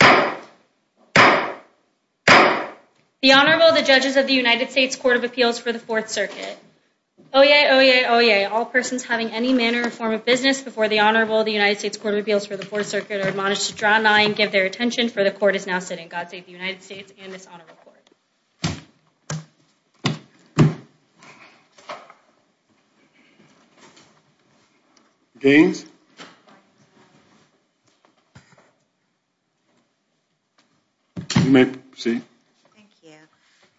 The Honorable, the Judges of the United States Court of Appeals for the Fourth Circuit. Oyez, oyez, oyez, all persons having any manner or form of business before the Honorable, the United States Court of Appeals for the Fourth Circuit, are admonished to draw nigh and give their attention, for the Court is now sitting. God save the United States and this Honorable Court. Gaines. You may proceed. Thank you.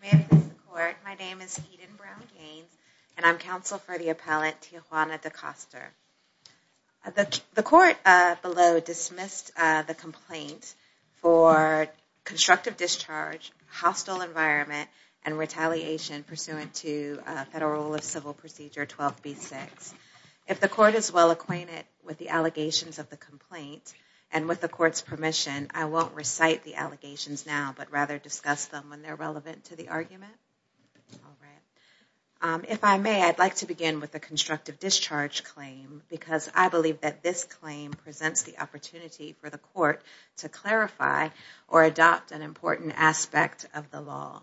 May I present the Court? My name is Keeden Brown Gaines and I'm counsel for the Appellant, Tijuana Decoster. The Court below dismissed the complaint for constructive discharge, hostile environment, and retaliation pursuant to Federal Rule of Civil Procedure 12B6. If the Court is well acquainted with the allegations of the complaint and with the Court's permission, I won't recite the allegations now, but rather discuss them when they're relevant to the argument. If I may, I'd like to begin with the constructive discharge claim, because I believe that this claim presents the opportunity for the Court to clarify or adopt an important aspect of the law.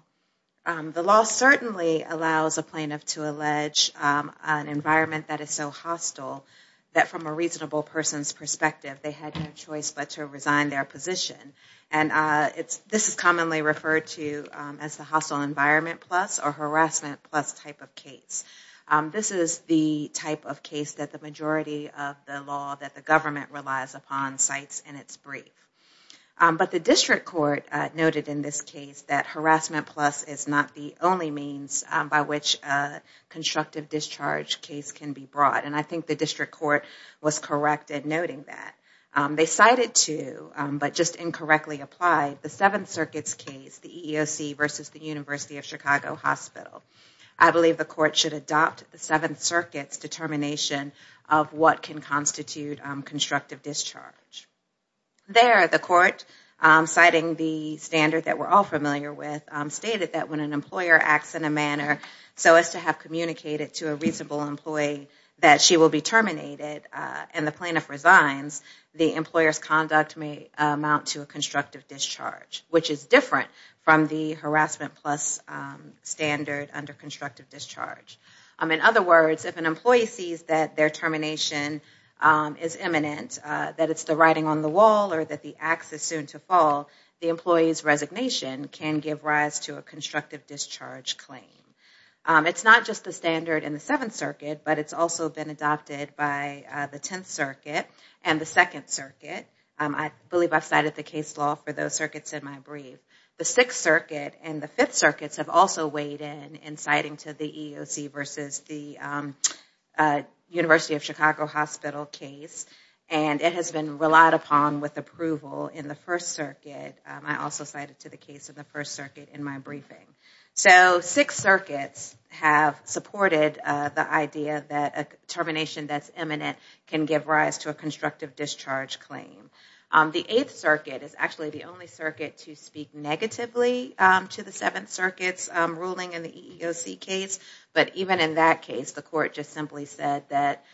The law certainly allows a plaintiff to allege an environment that is so hostile that from a reasonable person's perspective they had no choice but to resign their position. And this is commonly referred to as the hostile environment plus or harassment plus type of case. This is the type of case that the majority of the law that the government relies upon cites in its brief. But the District Court noted in this case that harassment plus is not the only means by which a constructive discharge case can be brought. And I think the District Court was correct in noting that. They cited two, but just incorrectly applied, the Seventh Circuit's case, the EEOC versus the University of Chicago Hospital. I believe the Court should adopt the Seventh Circuit's determination of what can constitute constructive discharge. There, the Court, citing the standard that we're all familiar with, stated that when an employer acts in a manner so as to have communicated to a reasonable employee that she will be terminated and the plaintiff resigns, the employer's conduct may amount to a constructive discharge, which is different from the harassment plus standard under constructive discharge. In other words, if an employee sees that their termination is imminent, that it's the writing on the wall or that the axe is soon to fall, the employee's resignation can give rise to a constructive discharge claim. It's not just the standard in the Seventh Circuit, but it's also been adopted by the Tenth Circuit and the Second Circuit. I believe I've cited the case law for those circuits in my brief. The Sixth Circuit and the Fifth Circuits have also weighed in in citing to the EEOC versus the University of Chicago Hospital case, and it has been relied upon with approval in the First Circuit. I also cited to the case of the First Circuit in my briefing. So Sixth Circuits have supported the idea that a termination that's imminent can give rise to a constructive discharge claim. The Eighth Circuit is actually the only circuit to speak negatively to the Seventh Circuit's ruling in the EEOC case. But even in that case, the court just simply said that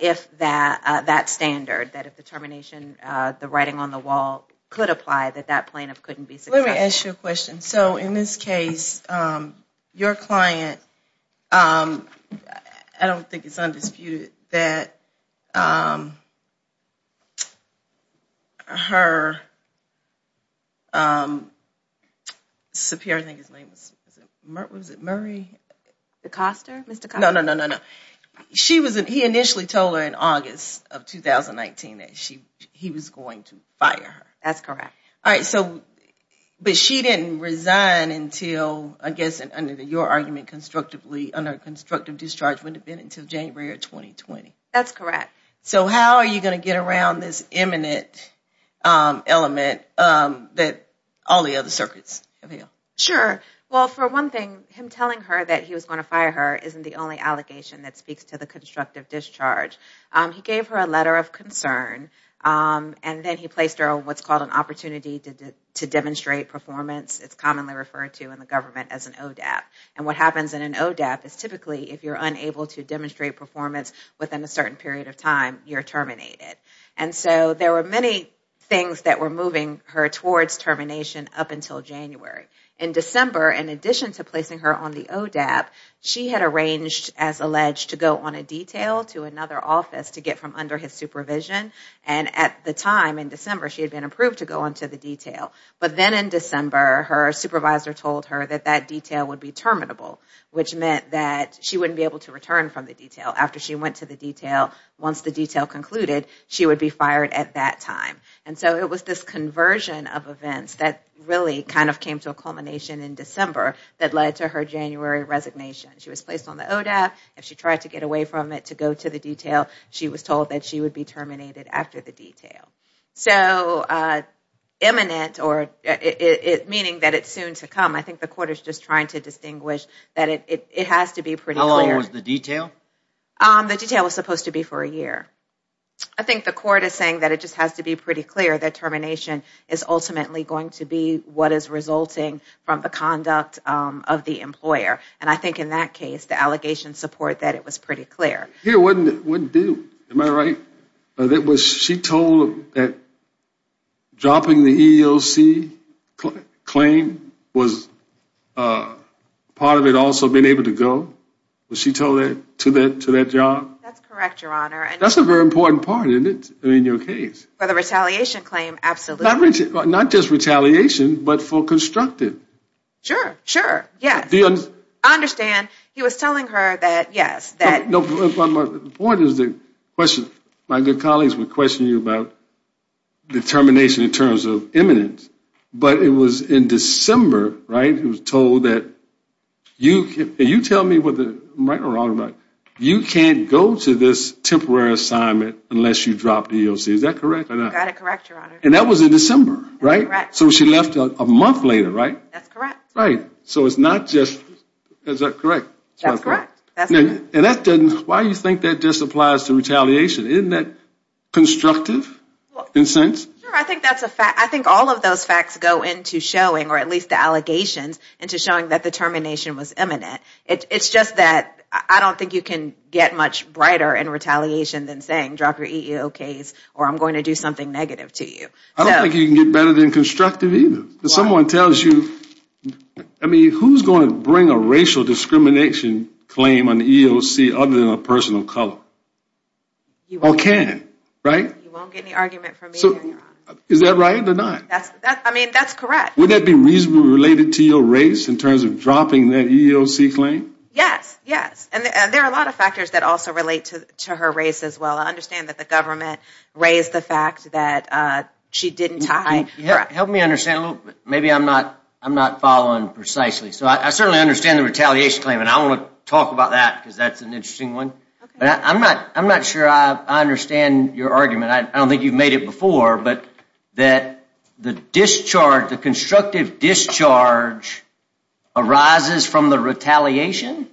if that standard, that if the termination, the writing on the wall could apply, that that plaintiff couldn't be successful. Can I ask you a question? So in this case, your client, I don't think it's undisputed that her superior, I think his name was, was it Murray? DeCoster, Mr. DeCoster. No, no, no, no, no. She was, he initially told her in August of 2019 that she, he was going to fire her. That's correct. All right. So, but she didn't resign until, I guess, under your argument, constructively, under constructive discharge wouldn't have been until January of 2020. That's correct. So how are you going to get around this imminent element that all the other circuits have held? Sure. Well, for one thing, him telling her that he was going to fire her isn't the only allegation that speaks to the constructive discharge. He gave her a letter of concern, and then he placed her on what's called an opportunity to demonstrate performance. It's commonly referred to in the government as an ODAP. And what happens in an ODAP is typically if you're unable to demonstrate performance within a certain period of time, you're terminated. And so there were many things that were moving her towards termination up until January. In December, in addition to placing her on the ODAP, she had arranged, as alleged, to go on a detail to another office to get from under his supervision. And at the time, in December, she had been approved to go on to the detail. But then in December, her supervisor told her that that detail would be terminable, which meant that she wouldn't be able to return from the detail. After she went to the detail, once the detail concluded, she would be fired at that time. And so it was this conversion of events that really kind of came to a culmination in December that led to her January resignation. She was placed on the ODAP. If she tried to get away from it to go to the detail, she was told that she would be terminated after the detail. So imminent, meaning that it's soon to come, I think the court is just trying to distinguish that it has to be pretty clear. How long was the detail? The detail was supposed to be for a year. I think the court is saying that it just has to be pretty clear that termination is ultimately going to be what is resulting from the conduct of the employer. And I think in that case, the allegations support that it was pretty clear. It wouldn't do. Am I right? Was she told that dropping the EEOC claim was part of it also being able to go? Was she told that to that job? That's correct, Your Honor. That's a very important part in your case. For the retaliation claim, absolutely. Not just retaliation, but for constructive. Sure, sure, yes. I understand. He was telling her that, yes. The point is, my good colleagues would question you about the termination in terms of imminent, but it was in December, right, You can't go to this temporary assignment unless you drop the EEOC, is that correct or not? You got it correct, Your Honor. And that was in December, right? That's correct. So she left a month later, right? That's correct. Right. So it's not just, is that correct? That's correct. And that doesn't, why do you think that just applies to retaliation? Isn't that constructive in a sense? Sure, I think that's a fact. I think all of those facts go into showing, or at least the allegations, that it's a fact. It goes into showing that the termination was imminent. It's just that I don't think you can get much brighter in retaliation than saying drop your EEOC or I'm going to do something negative to you. I don't think you can get better than constructive either. Why? If someone tells you, I mean, who's going to bring a racial discrimination claim on the EEOC other than a person of color? You won't. Or can, right? You won't get any argument from me, Your Honor. Is that right or not? I mean, that's correct. Would that be reasonably related to your race in terms of dropping that EEOC claim? Yes, yes. And there are a lot of factors that also relate to her race as well. I understand that the government raised the fact that she didn't tie. Help me understand a little bit. Maybe I'm not following precisely. So I certainly understand the retaliation claim, and I want to talk about that because that's an interesting one. But I'm not sure I understand your argument. I don't think you've made it before, but that the discharge, the constructive discharge arises from the retaliation?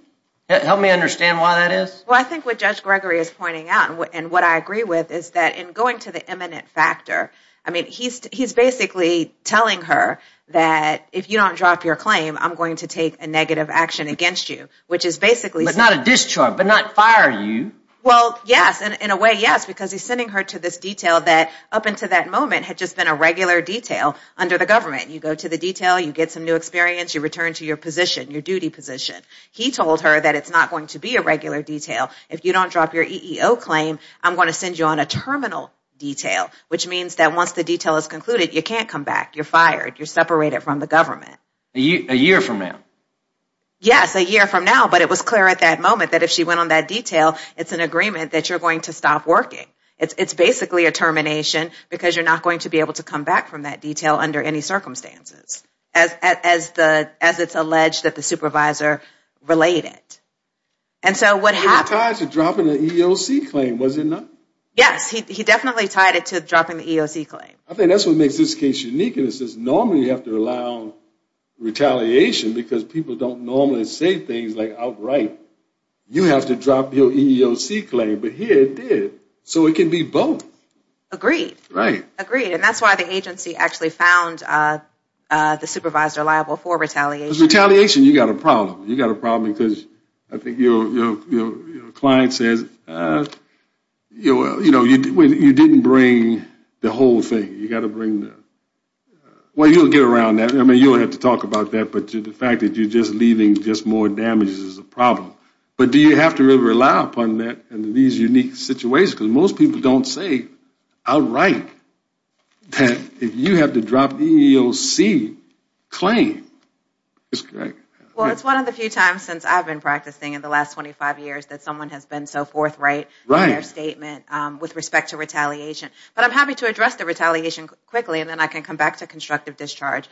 Help me understand why that is. Well, I think what Judge Gregory is pointing out and what I agree with is that in going to the eminent factor, I mean, he's basically telling her that if you don't drop your claim, I'm going to take a negative action against you, which is basically... But not a discharge, but not fire you. Well, yes. In a way, yes, because he's sending her to this detail that up until that moment had just been a regular detail under the government. You go to the detail. You get some new experience. You return to your position, your duty position. He told her that it's not going to be a regular detail. If you don't drop your EEO claim, I'm going to send you on a terminal detail, which means that once the detail is concluded, you can't come back. You're fired. You're separated from the government. A year from now? Yes, a year from now. But it was clear at that moment that if she went on that detail, it's an agreement that you're going to stop working. It's basically a termination because you're not going to be able to come back from that detail under any circumstances, as it's alleged that the supervisor relayed it. And so what happened... He was tied to dropping the EEOC claim, was he not? Yes, he definitely tied it to dropping the EEOC claim. I think that's what makes this case unique, and it says normally you have to allow retaliation because people don't normally say things outright. You have to drop your EEOC claim, but here it did. So it can be both. Agreed. Right. Agreed, and that's why the agency actually found the supervisor liable for retaliation. With retaliation, you've got a problem. You've got a problem because I think your client says you didn't bring the whole thing. You've got to bring the... Well, you'll get around that. I mean, you don't have to talk about that, but the fact that you're just leaving just more damage is a problem. But do you have to really rely upon that in these unique situations? Because most people don't say outright that you have to drop the EEOC claim. Well, it's one of the few times since I've been practicing in the last 25 years that someone has been so forthright in their statement with respect to retaliation. But I'm happy to address the retaliation quickly, and then I can come back to constructive discharge.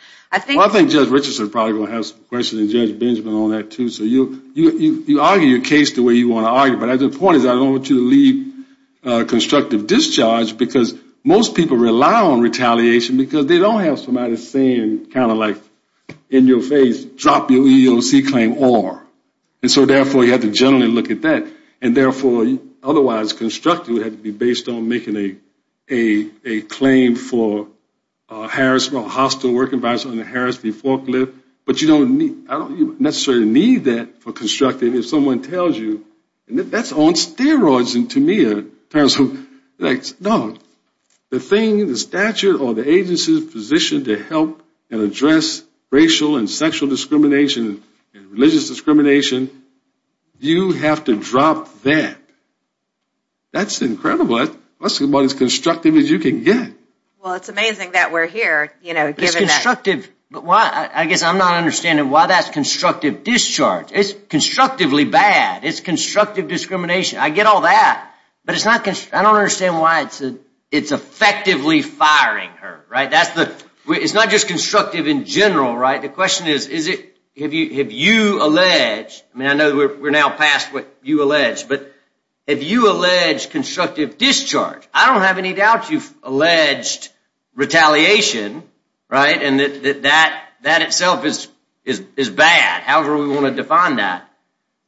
Well, I think Judge Richardson is probably going to have some questions, and Judge Benjamin on that, too. So you argue your case the way you want to argue, but the point is I don't want you to leave constructive discharge because most people rely on retaliation because they don't have somebody saying kind of like in your face, drop your EEOC claim or. And so therefore, you have to generally look at that. And therefore, otherwise, constructive would have to be based on making a claim for harassment or hostile work environment on the harassment forklift. But you don't necessarily need that for constructive if someone tells you, and that's on steroids to me. No, the thing, the statute or the agency's position to help and address racial and sexual discrimination and religious discrimination, you have to drop that. That's incredible. That's about as constructive as you can get. Well, it's amazing that we're here, you know, given that. It's constructive, but I guess I'm not understanding why that's constructive discharge. It's constructively bad. It's constructive discrimination. I get all that, but I don't understand why it's effectively firing her, right? It's not just constructive in general, right? The question is, have you alleged, I mean, I know we're now past what you alleged, but have you alleged constructive discharge? I don't have any doubt you've alleged retaliation, right, and that that itself is bad. However we want to define that.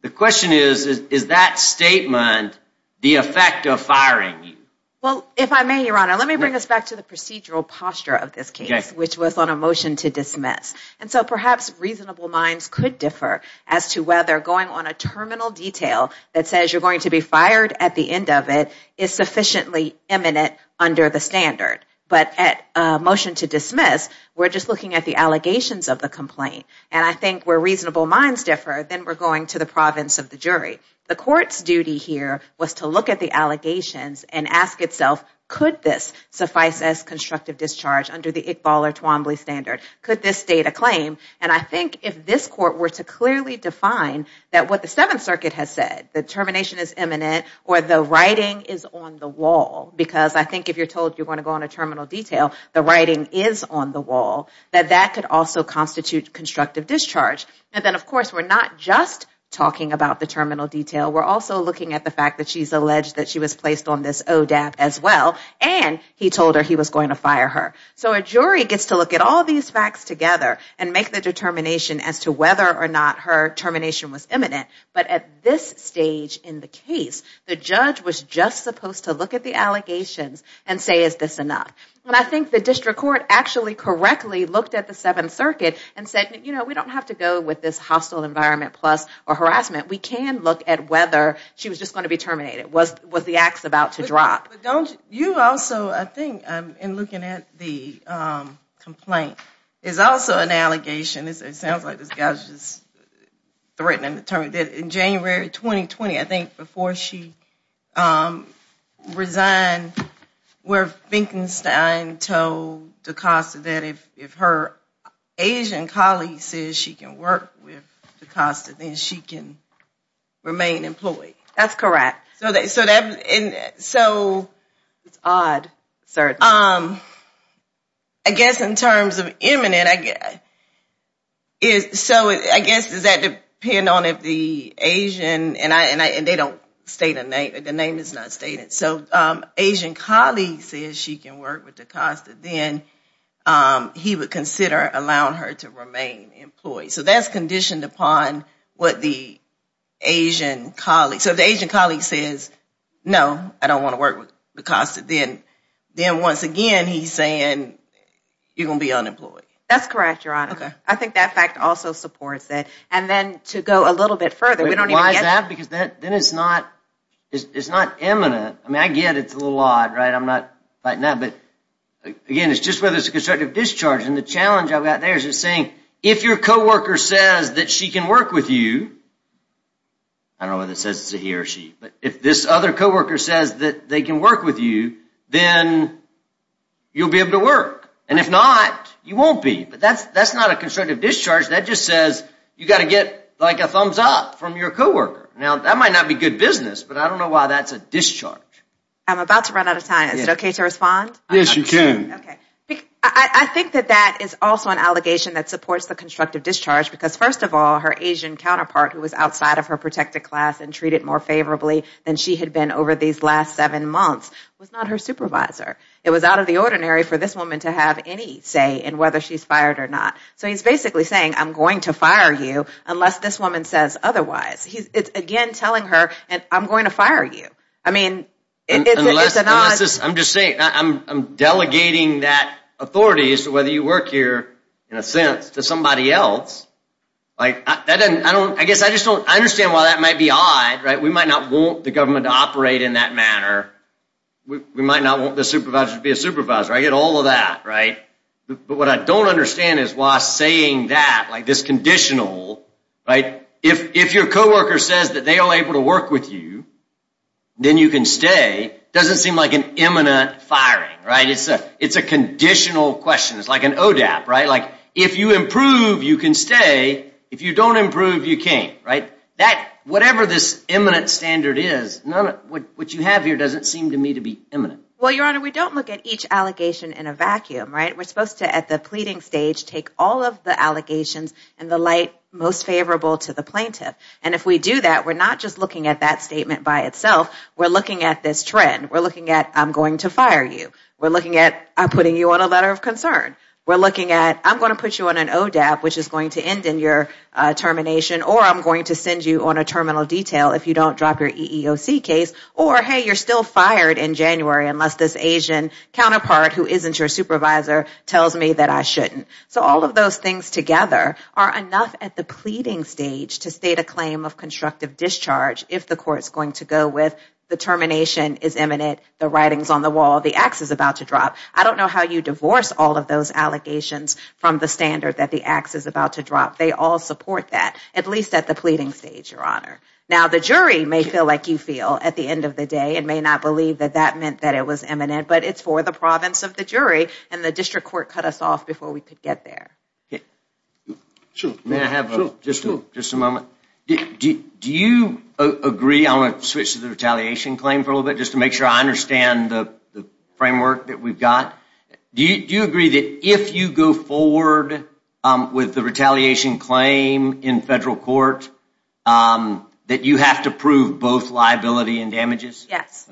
The question is, is that statement the effect of firing you? Well, if I may, Your Honor, let me bring us back to the procedural posture of this case, which was on a motion to dismiss. And so perhaps reasonable minds could differ as to whether going on a terminal detail that says you're going to be fired at the end of it is sufficiently eminent under the standard. But at a motion to dismiss, we're just looking at the allegations of the complaint. And I think where reasonable minds differ, then we're going to the province of the jury. The court's duty here was to look at the allegations and ask itself, could this suffice as constructive discharge under the Iqbal or Twombly standard? Could this state a claim? And I think if this court were to clearly define that what the Seventh Circuit has said, that termination is eminent or the writing is on the wall, because I think if you're told you're going to go on a terminal detail, the writing is on the wall, that that could also constitute constructive discharge. And then, of course, we're not just talking about the terminal detail. We're also looking at the fact that she's alleged that she was placed on this ODAP as well, and he told her he was going to fire her. So a jury gets to look at all these facts together and make the determination as to whether or not her termination was eminent. But at this stage in the case, the judge was just supposed to look at the allegations and say, is this enough? And I think the district court actually correctly looked at the Seventh Circuit and said, you know, we don't have to go with this hostile environment plus or harassment. We can look at whether she was just going to be terminated. Was the ax about to drop? But don't you also, I think, in looking at the complaint, is also an allegation, it sounds like this guy was just threatened and determined, that in January 2020, I think, before she resigned, where Finkenstein told DaCosta that if her Asian colleague says she can work with DaCosta, then she can remain employed? That's correct. So that's odd, certainly. I guess in terms of eminent, so I guess does that depend on if the Asian, and they don't state a name, the name is not stated. So Asian colleague says she can work with DaCosta, then he would consider allowing her to remain employed. So that's conditioned upon what the Asian colleague, so if the Asian colleague says no, I don't want to work with DaCosta, then once again he's saying you're going to be unemployed. That's correct, Your Honor. Okay. I think that fact also supports it. And then to go a little bit further, we don't even get to. Why is that? Because then it's not eminent. I mean, I get it's a little odd, right? I'm not fighting that. But, again, it's just whether it's a constructive discharge. And the challenge I've got there is just saying if your co-worker says that she can work with you, I don't know whether it says he or she, but if this other co-worker says that they can work with you, then you'll be able to work. And if not, you won't be. But that's not a constructive discharge. That just says you've got to get like a thumbs up from your co-worker. Now, that might not be good business, but I don't know why that's a discharge. I'm about to run out of time. Is it okay to respond? Yes, you can. I think that that is also an allegation that supports the constructive discharge because, first of all, her Asian counterpart, who was outside of her protected class and treated more favorably than she had been over these last seven months, was not her supervisor. It was out of the ordinary for this woman to have any say in whether she's fired or not. So he's basically saying, I'm going to fire you unless this woman says otherwise. It's, again, telling her, I'm going to fire you. I'm just saying, I'm delegating that authority as to whether you work here, in a sense, to somebody else. I guess I just don't understand why that might be odd. We might not want the government to operate in that manner. We might not want the supervisor to be a supervisor. I get all of that. But what I don't understand is why saying that, like this conditional, if your coworker says that they are able to work with you, then you can stay, doesn't seem like an imminent firing. It's a conditional question. It's like an ODAP. If you improve, you can stay. If you don't improve, you can't. Whatever this imminent standard is, what you have here doesn't seem to me to be imminent. Well, Your Honor, we don't look at each allegation in a vacuum. We're supposed to, at the pleading stage, take all of the allegations and the light most favorable to the plaintiff. And if we do that, we're not just looking at that statement by itself. We're looking at this trend. We're looking at, I'm going to fire you. We're looking at, I'm putting you on a letter of concern. We're looking at, I'm going to put you on an ODAP, which is going to end in your termination, or I'm going to send you on a terminal detail if you don't drop your EEOC case, or, hey, you're still fired in January unless this Asian counterpart, who isn't your supervisor, tells me that I shouldn't. So all of those things together are enough at the pleading stage to state a claim of constructive discharge if the court's going to go with the termination is imminent, the writing's on the wall, the ax is about to drop. I don't know how you divorce all of those allegations from the standard that the ax is about to drop. They all support that, at least at the pleading stage, Your Honor. Now, the jury may feel like you feel at the end of the day and may not believe that that meant that it was imminent, but it's for the province of the jury, and the district court cut us off before we could get there. Sure. May I have just a moment? Do you agree, I want to switch to the retaliation claim for a little bit just to make sure I understand the framework that we've got. Do you agree that if you go forward with the retaliation claim in federal court that you have to prove both liability and damages? Yes.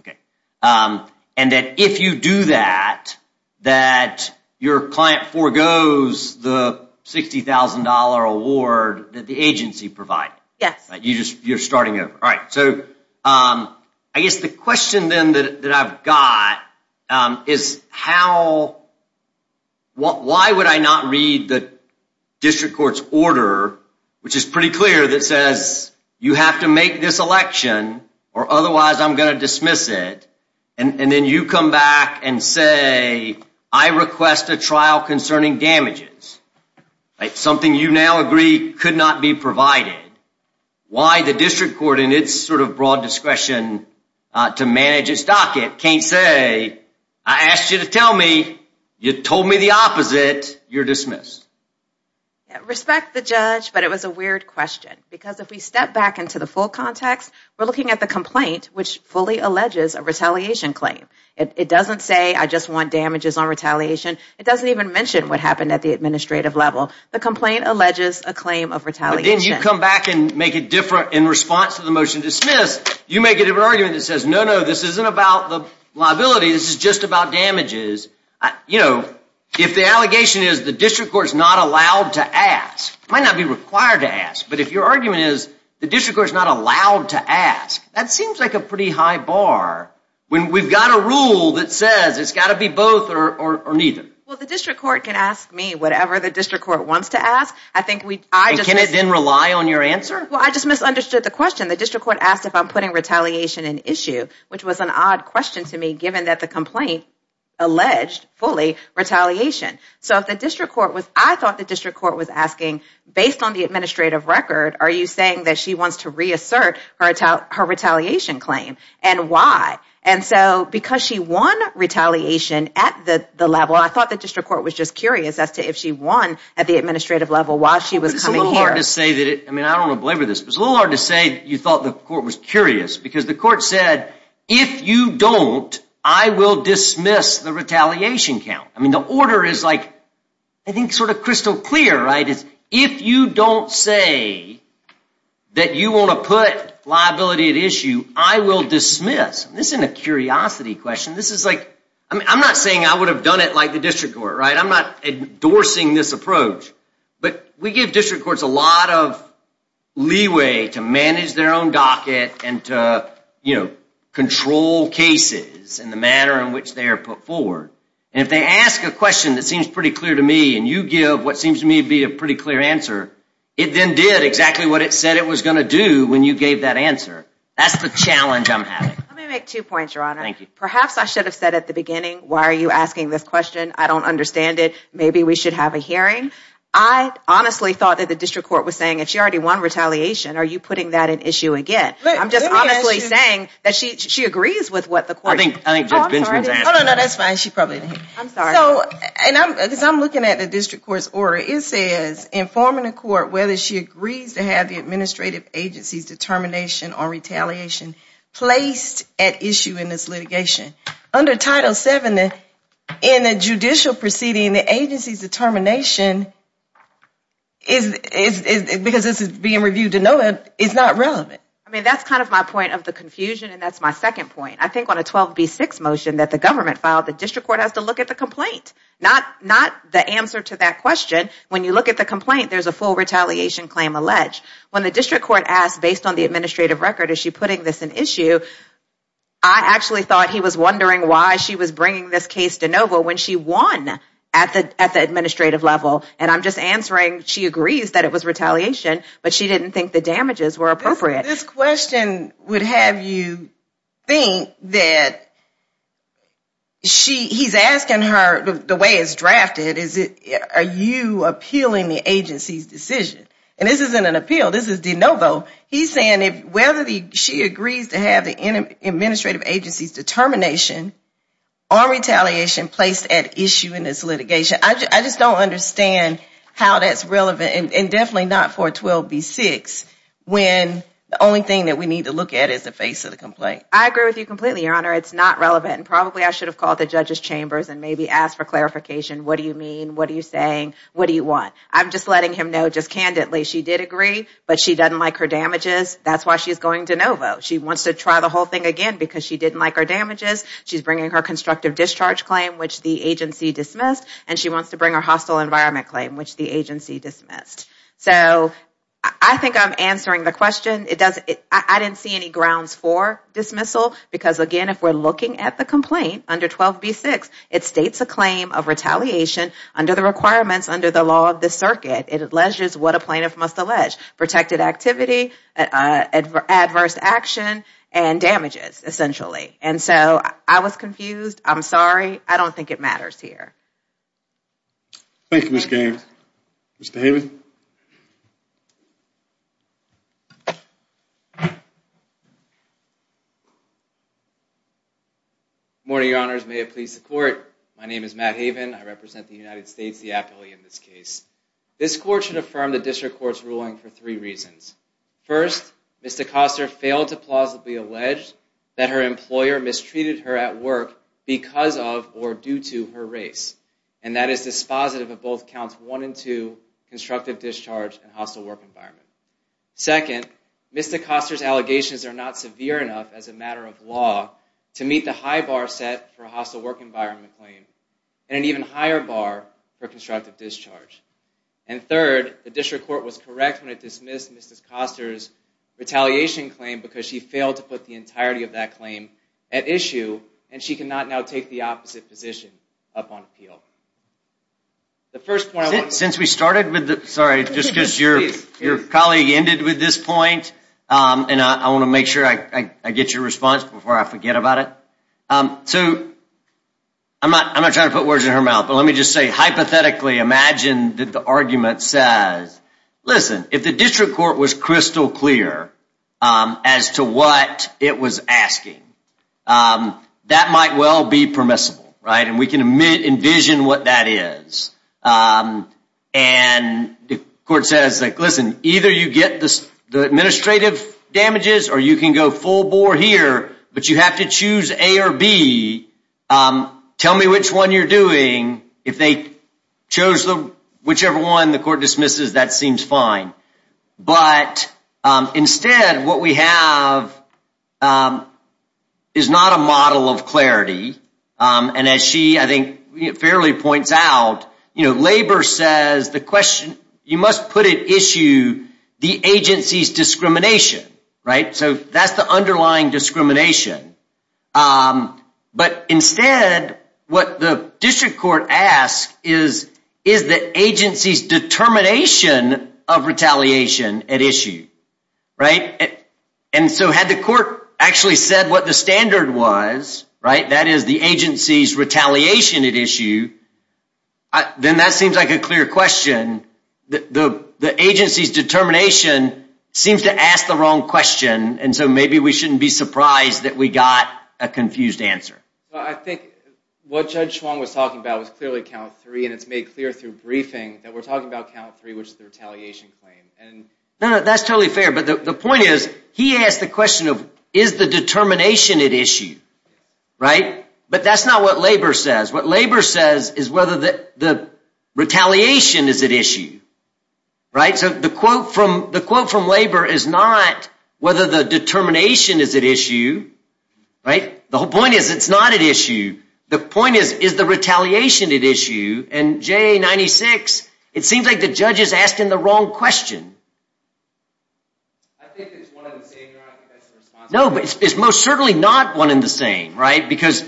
And that if you do that, that your client forgoes the $60,000 award that the agency provided? Yes. You're starting over. All right, so I guess the question then that I've got is why would I not read the district court's order, which is pretty clear, that says you have to make this election or otherwise I'm going to dismiss it, and then you come back and say I request a trial concerning damages, something you now agree could not be provided. Why the district court in its sort of broad discretion to manage its docket can't say I asked you to tell me, you told me the opposite, you're dismissed? Respect the judge, but it was a weird question because if we step back into the full context, we're looking at the complaint, which fully alleges a retaliation claim. It doesn't say I just want damages on retaliation. It doesn't even mention what happened at the administrative level. The complaint alleges a claim of retaliation. But then you come back and make it different in response to the motion dismissed, you make it an argument that says no, no, this isn't about the liability, this is just about damages. You know, if the allegation is the district court's not allowed to ask, it might not be required to ask, but if your argument is the district court is not allowed to ask, that seems like a pretty high bar when we've got a rule that says it's got to be both or neither. Well, the district court can ask me whatever the district court wants to ask. Can it then rely on your answer? Well, I just misunderstood the question. The district court asked if I'm putting retaliation in issue, which was an odd question to me given that the complaint alleged fully retaliation. So I thought the district court was asking, based on the administrative record, are you saying that she wants to reassert her retaliation claim and why? And so because she won retaliation at the level, I thought the district court was just curious as to if she won at the administrative level while she was coming here. It's a little hard to say, I don't want to belabor this, but it's a little hard to say you thought the court was curious because the court said, if you don't, I will dismiss the retaliation count. I mean, the order is, I think, sort of crystal clear. If you don't say that you want to put liability at issue, I will dismiss. This isn't a curiosity question. I'm not saying I would have done it like the district court. I'm not endorsing this approach. But we give district courts a lot of leeway to manage their own docket and to control cases in the manner in which they are put forward. And if they ask a question that seems pretty clear to me and you give what seems to me to be a pretty clear answer, it then did exactly what it said it was going to do when you gave that answer. That's the challenge I'm having. Let me make two points, Your Honor. Thank you. Perhaps I should have said at the beginning, why are you asking this question? I don't understand it. Maybe we should have a hearing. I honestly thought that the district court was saying, if she already won retaliation, are you putting that at issue again? I'm just honestly saying that she agrees with what the court said. That's fine. She probably didn't. I'm sorry. I'm looking at the district court's order. It says, informing the court whether she agrees to have the administrative agency's determination on retaliation placed at issue in this litigation. Under Title VII, in the judicial proceeding, the agency's determination, because this is being reviewed to know it, is not relevant. I mean, that's kind of my point of the confusion, and that's my second point. I think on a 12B6 motion that the government filed, the district court has to look at the complaint, not the answer to that question. When you look at the complaint, there's a full retaliation claim alleged. When the district court asked, based on the administrative record, is she putting this at issue, I actually thought he was wondering why she was bringing this case to NOVA when she won at the administrative level. And I'm just answering she agrees that it was retaliation, but she didn't think the damages were appropriate. This question would have you think that he's asking her, the way it's drafted, are you appealing the agency's decision? And this isn't an appeal. This is de novo. He's saying whether she agrees to have the administrative agency's determination on retaliation placed at issue in this litigation. I just don't understand how that's relevant, and definitely not for a 12B6 when the only thing that we need to look at is the face of the complaint. I agree with you completely, Your Honor. It's not relevant, and probably I should have called the judge's chambers and maybe asked for clarification. What do you mean? What are you saying? What do you want? I'm just letting him know just candidly she did agree, but she doesn't like her damages. That's why she's going de novo. She wants to try the whole thing again because she didn't like her damages. She's bringing her constructive discharge claim, which the agency dismissed, and she wants to bring her hostile environment claim, which the agency dismissed. So I think I'm answering the question. I didn't see any grounds for dismissal because, again, if we're looking at the complaint under 12B6, it states a claim of retaliation under the requirements under the law of the circuit. It alleges what a plaintiff must allege, protected activity, adverse action, and damages, essentially. And so I was confused. I'm sorry. I don't think it matters here. Thank you, Ms. Gaines. Mr. Haven. Good morning, your honors. May it please the court. My name is Matt Haven. I represent the United States, the appellee in this case. This court should affirm the district court's ruling for three reasons. First, Ms. DeCoster failed to plausibly allege that her employer mistreated her at work because of or due to her race. And that is dispositive of both counts 1 and 2, constructive discharge and hostile work environment. Second, Ms. DeCoster's allegations are not severe enough, as a matter of law, to meet the high bar set for a hostile work environment claim and an even higher bar for constructive discharge. And third, the district court was correct when it dismissed Ms. DeCoster's retaliation claim because she failed to put the entirety of that claim at issue and she cannot now take the opposite position upon appeal. Since we started with the... Sorry, just because your colleague ended with this point and I want to make sure I get your response before I forget about it. I'm not trying to put words in her mouth, but let me just say, hypothetically, imagine that the argument says, listen, if the district court was crystal clear as to what it was asking, that might well be permissible, right? And we can envision what that is. And the court says, listen, either you get the administrative damages or you can go full bore here, Tell me which one you're doing. If they chose whichever one the court dismisses, that seems fine. But instead, what we have is not a model of clarity. And as she, I think, fairly points out, labor says the question, you must put at issue the agency's discrimination, right? So that's the underlying discrimination. But instead, what the district court asks is, is the agency's determination of retaliation at issue, right? And so had the court actually said what the standard was, right? That is the agency's retaliation at issue. Then that seems like a clear question. The agency's determination seems to ask the wrong question. And so maybe we shouldn't be surprised that we got a confused answer. I think what Judge Chuang was talking about was clearly count three, and it's made clear through briefing that we're talking about count three, which is the retaliation claim. No, no, that's totally fair. But the point is, he asked the question of, is the determination at issue, right? But that's not what labor says. What labor says is whether the retaliation is at issue, right? So the quote from labor is not whether the determination is at issue, right? The whole point is it's not at issue. The point is, is the retaliation at issue? And JA 96, it seems like the judge is asking the wrong question. No, but it's most certainly not one and the same, right? Because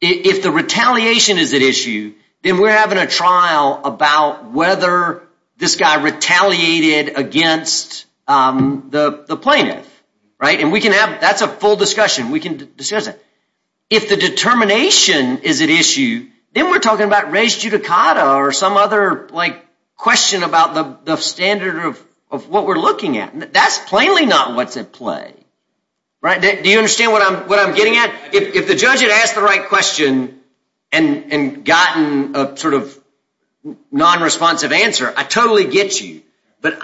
if the retaliation is at issue, then we're having a trial about whether this guy retaliated against the plaintiff, right? And that's a full discussion. We can discuss that. If the determination is at issue, then we're talking about res judicata or some other question about the standard of what we're looking at. That's plainly not what's at play, right? Do you understand what I'm getting at? If the judge had asked the right question and gotten a sort of non-responsive answer, I totally get you. But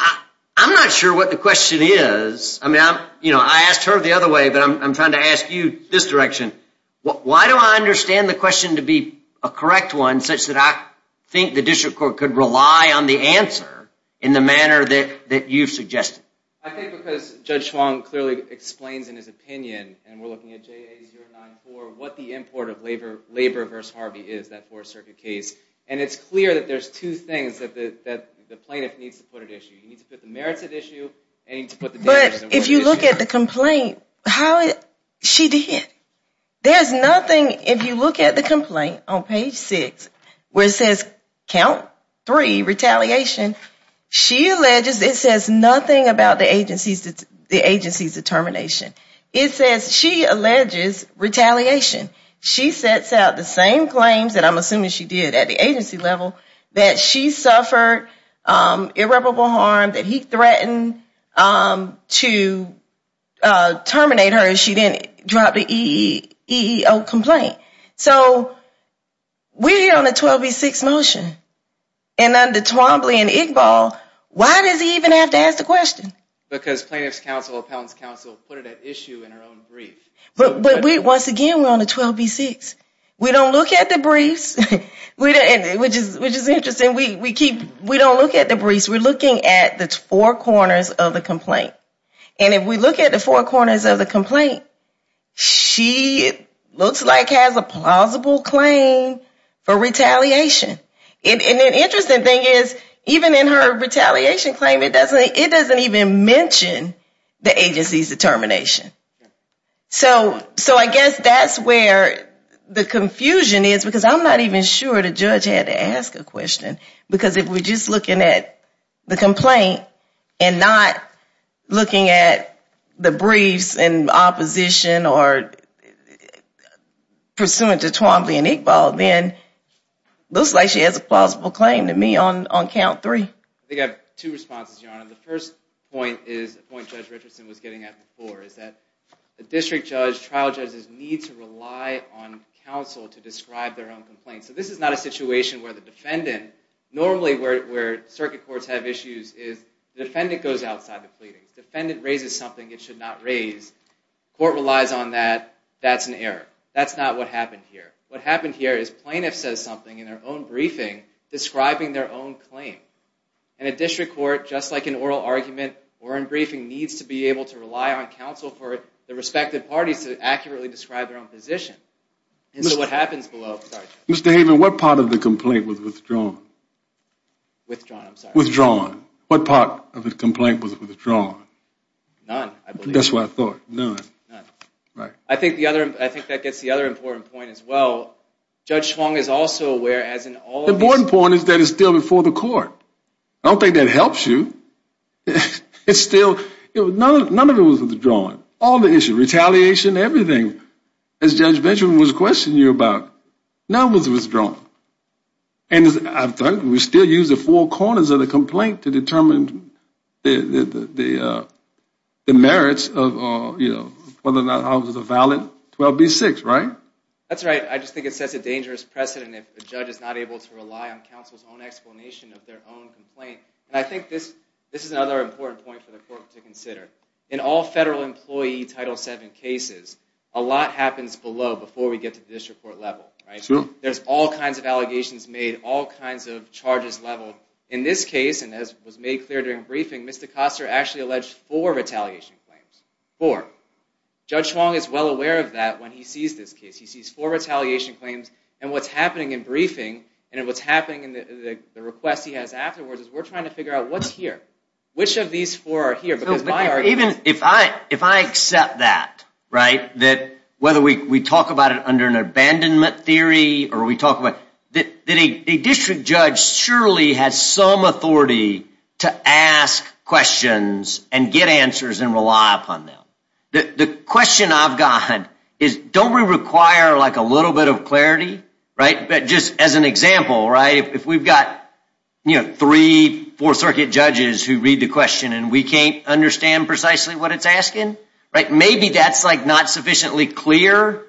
I'm not sure what the question is. I asked her the other way, but I'm trying to ask you this direction. Why do I understand the question to be a correct one such that I think the district court could rely on the answer in the manner that you've suggested? I think because Judge Schwong clearly explains in his opinion, and we're looking at JA 094, what the import of labor versus Harvey is, that Fourth Circuit case. And it's clear that there's two things that the plaintiff needs to put at issue. He needs to put the merits at issue, and he needs to put the damages at issue. But if you look at the complaint, she did. There's nothing, if you look at the complaint on page 6, where it says, count three, retaliation, she alleges, it says nothing about the agency's determination. It says she alleges retaliation. She sets out the same claims, and I'm assuming she did at the agency level, that she suffered irreparable harm, that he threatened to terminate her if she didn't drop the EEO complaint. So we're here on a 12B6 motion. And under Twombly and Iqbal, why does he even have to ask the question? Because plaintiff's counsel, appellant's counsel put it at issue in her own brief. But once again, we're on a 12B6. We don't look at the briefs, which is interesting. We don't look at the briefs. We're looking at the four corners of the complaint. And if we look at the four corners of the complaint, she looks like has a plausible claim for retaliation. And the interesting thing is, even in her retaliation claim, it doesn't even mention the agency's determination. So I guess that's where the confusion is, because I'm not even sure the judge had to ask a question. Because if we're just looking at the complaint, and not looking at the briefs and opposition, or pursuant to Twombly and Iqbal, then it looks like she has a plausible claim to me on count three. I think I have two responses, Your Honor. The first point is a point Judge Richardson was getting at before, is that the district judge, trial judges, need to rely on counsel to describe their own complaints. So this is not a situation where the defendant, normally where circuit courts have issues, is the defendant goes outside the pleadings. The defendant raises something it should not raise. Court relies on that, that's an error. That's not what happened here. What happened here is plaintiff says something in their own briefing, describing their own claim. And a district court, just like an oral argument or in briefing, needs to be able to rely on counsel for the respective parties to accurately describe their own position. Mr. Haven, what part of the complaint was withdrawn? Withdrawn, I'm sorry. None. I think that gets the other important point as well. Judge Schwong is also aware, as in all of these... The important point is that it's still before the court. I don't think that helps you. It's still, none of it was withdrawn. All the issues, retaliation, everything, as Judge Benjamin was questioning you about, none of it was withdrawn. And I think we still use the four corners of the complaint to determine the merits of whether or not it was a valid 12B6, right? That's right. I just think it sets a dangerous precedent if a judge is not able to rely on counsel's own explanation of their own complaint. And I think this is another important point for the court to consider. In all federal employee Title VII cases, a lot happens below before we get to the district court level. There's all kinds of allegations made, all kinds of charges leveled. In this case, and as was made clear during briefing, Mr. Koster actually alleged four retaliation claims. Four. Judge Schwong is well aware of that when he sees this case. He sees four retaliation claims and what's happening in briefing and what's happening in the request he has afterwards is we're trying to figure out what's here. Which of these four are here? If I accept that, right? Whether we talk about it under an abandonment theory or we talk about it, a district judge surely has some authority to ask questions and get answers and rely upon them. The question I've got is don't we require a little bit of clarity? Just as an example, if we've got three Fourth Circuit judges who read the question and we can't understand precisely what it's asking, maybe that's not sufficiently clear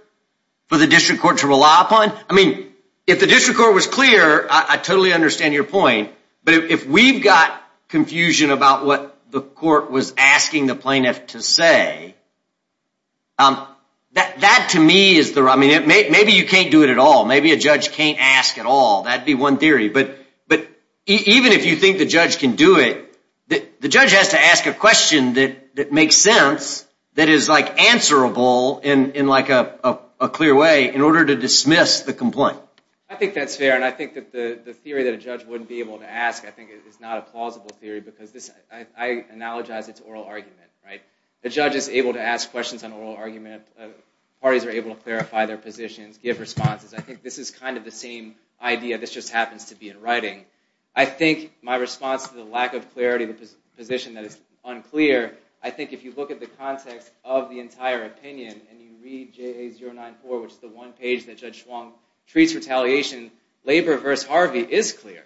for the district court to rely upon? If the district court was clear, I totally understand your point. But if we've got confusion about what the court was asking the plaintiff to say, that to me is the... Maybe you can't do it at all. Maybe a judge can't ask at all. That would be one theory. But even if you think the judge can do it, the judge has to ask a question that makes sense that is answerable in a clear way in order to dismiss the complaint. I think that's fair. And I think that the theory that a judge wouldn't be able to ask is not a plausible theory because I analogize it to oral argument. The judge is able to ask questions on oral argument. Parties are able to clarify their positions, give responses. I think this is kind of the same idea. This just happens to be in writing. I think my response to the lack of clarity of the position that is unclear, I think if you look at the context of the entire opinion and you read JA 094, which is the one page that Judge Schwong treats retaliation, labor versus Harvey is clear.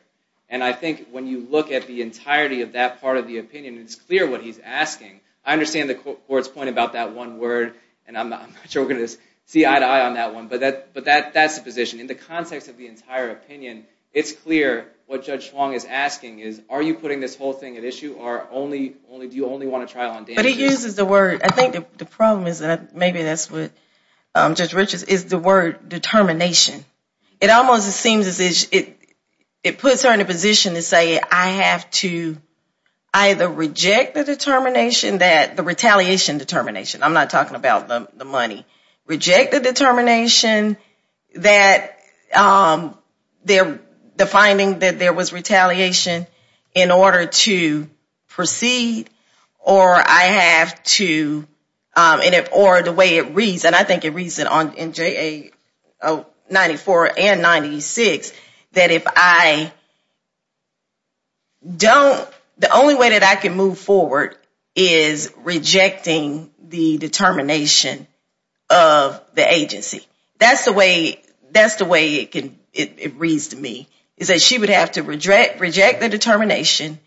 And I think when you look at the entirety of that part of the opinion, it's clear what he's asking. I understand the court's point about that one word, and I'm not sure we're going to see eye to eye on that one, but that's the position. In the context of the entire opinion, it's clear what Judge Schwong is asking is, are you putting this whole thing at issue, or do you only want a trial on damages? But he uses the word, I think the problem is that maybe that's what Judge Richards, is the word determination. It almost seems as if it puts her in a position to say I have to either reject the determination that, the retaliation determination, I'm not talking about the money, reject the determination that the finding that there was retaliation in order to proceed, or I have to, or the way it reads, and I think it reads in JA 094 and 096, that if I don't, the only way that I can move forward is rejecting the determination of the agency. That's the way it reads to me, is that she would have to reject the determination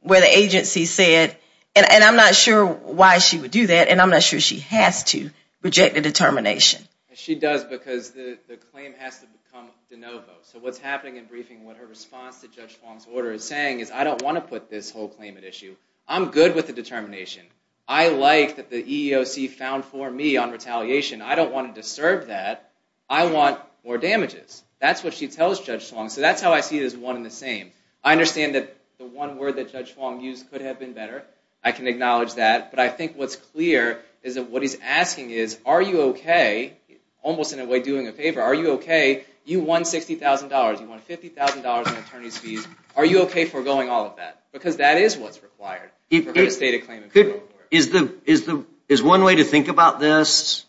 where the agency said, and I'm not sure why she would do that, and I'm not sure she has to reject the determination. She does because the claim has to become de novo. So what's happening in briefing, what her response to Judge Schwong's order is saying is I don't want to put this whole claim at issue. I'm good with the determination. I like that the EEOC found for me on retaliation. I don't want to disturb that. I want more damages. That's what she tells Judge Schwong. So that's how I see it as one and the same. I understand that the one word that Judge Schwong used could have been better. I can acknowledge that, but I think what's clear is that what he's asking is, are you okay, almost in a way doing a favor, are you okay, you won $60,000, you won $50,000 in attorney's fees, are you okay forgoing all of that? Because that is what's required for her Is one way to think about this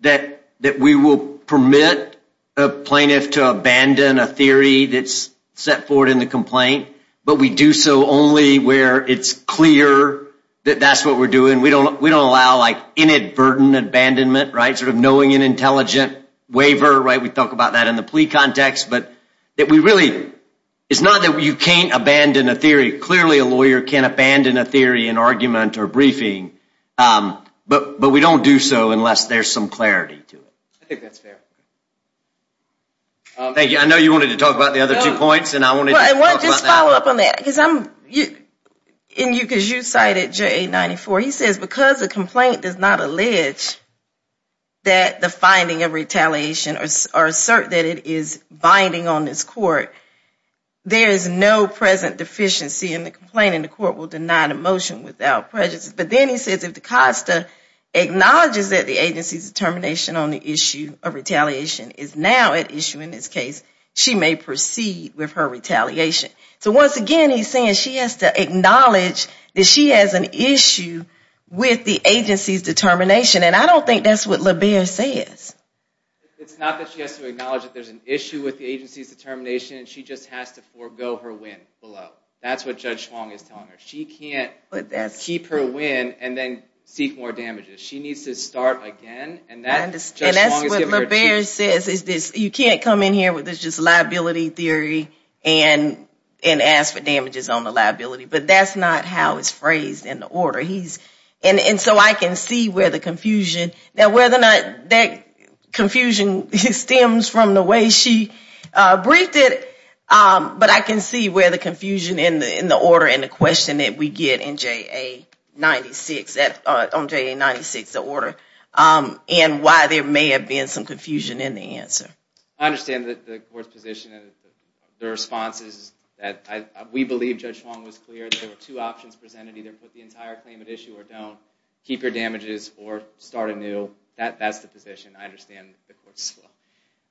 that we will permit a plaintiff to abandon a theory that's set forward in the complaint, but we do so only where it's clear that that's what we're doing. We don't allow inadvertent abandonment, knowing an intelligent waiver. We talk about that in the plea context. It's not that you can't abandon a theory. Clearly a lawyer can't abandon a theory in argument or briefing, but we don't do so unless there's some clarity to it. I think that's fair. I know you wanted to talk about the other two points. I want to just follow up on that. You cited J894. He says because the complaint does not allege that the finding of this court, there is no present deficiency in the complaint and the court will deny the motion without prejudice. But then he says if the COSTA acknowledges that the agency's determination on the issue of retaliation is now at issue in this case, she may proceed with her retaliation. Once again, he's saying she has to acknowledge that she has an issue with the agency's determination. I don't think that's what LaBear says. It's not that she has to acknowledge that there's an issue with the agency's determination. She just has to forego her win below. That's what Judge Schwong is telling her. She can't keep her win and then seek more damages. She needs to start again. That's what LaBear says. You can't come in here with this liability theory and ask for damages on the liability. But that's not how it's phrased in the order. I can see where the confusion stems from the way she briefed it, but I can see where the confusion in the order and the question that we get on JA 96, the order, and why there may have been some confusion in the answer. I understand the court's position. We believe Judge Schwong was clear that there were two options. You either issue or don't. Keep your damages or start anew. That's the position. I understand the court's slow.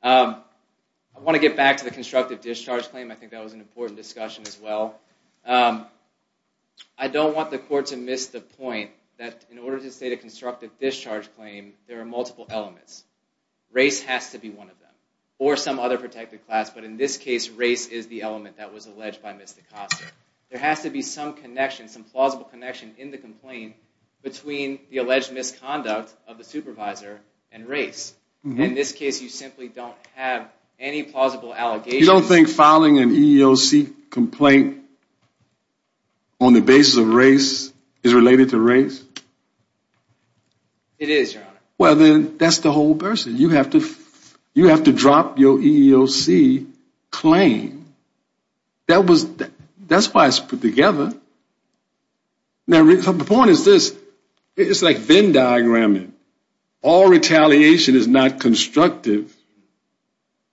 I want to get back to the constructive discharge claim. I think that was an important discussion as well. I don't want the court to miss the point that in order to state a constructive discharge claim, there are multiple elements. Race has to be one of them, or some other protected class. But in this case, race is the element that was alleged by Ms. DaCosta. There has to be some connection, some plausible connection in the complaint between the alleged misconduct of the supervisor and race. In this case, you simply don't have any plausible allegations. You don't think filing an EEOC complaint on the basis of race is related to race? It is, Your Honor. That's the whole person. You have to drop your EEOC claim. That's why it's put together. The point is this. It's like Venn diagramming. All retaliation is not constructive,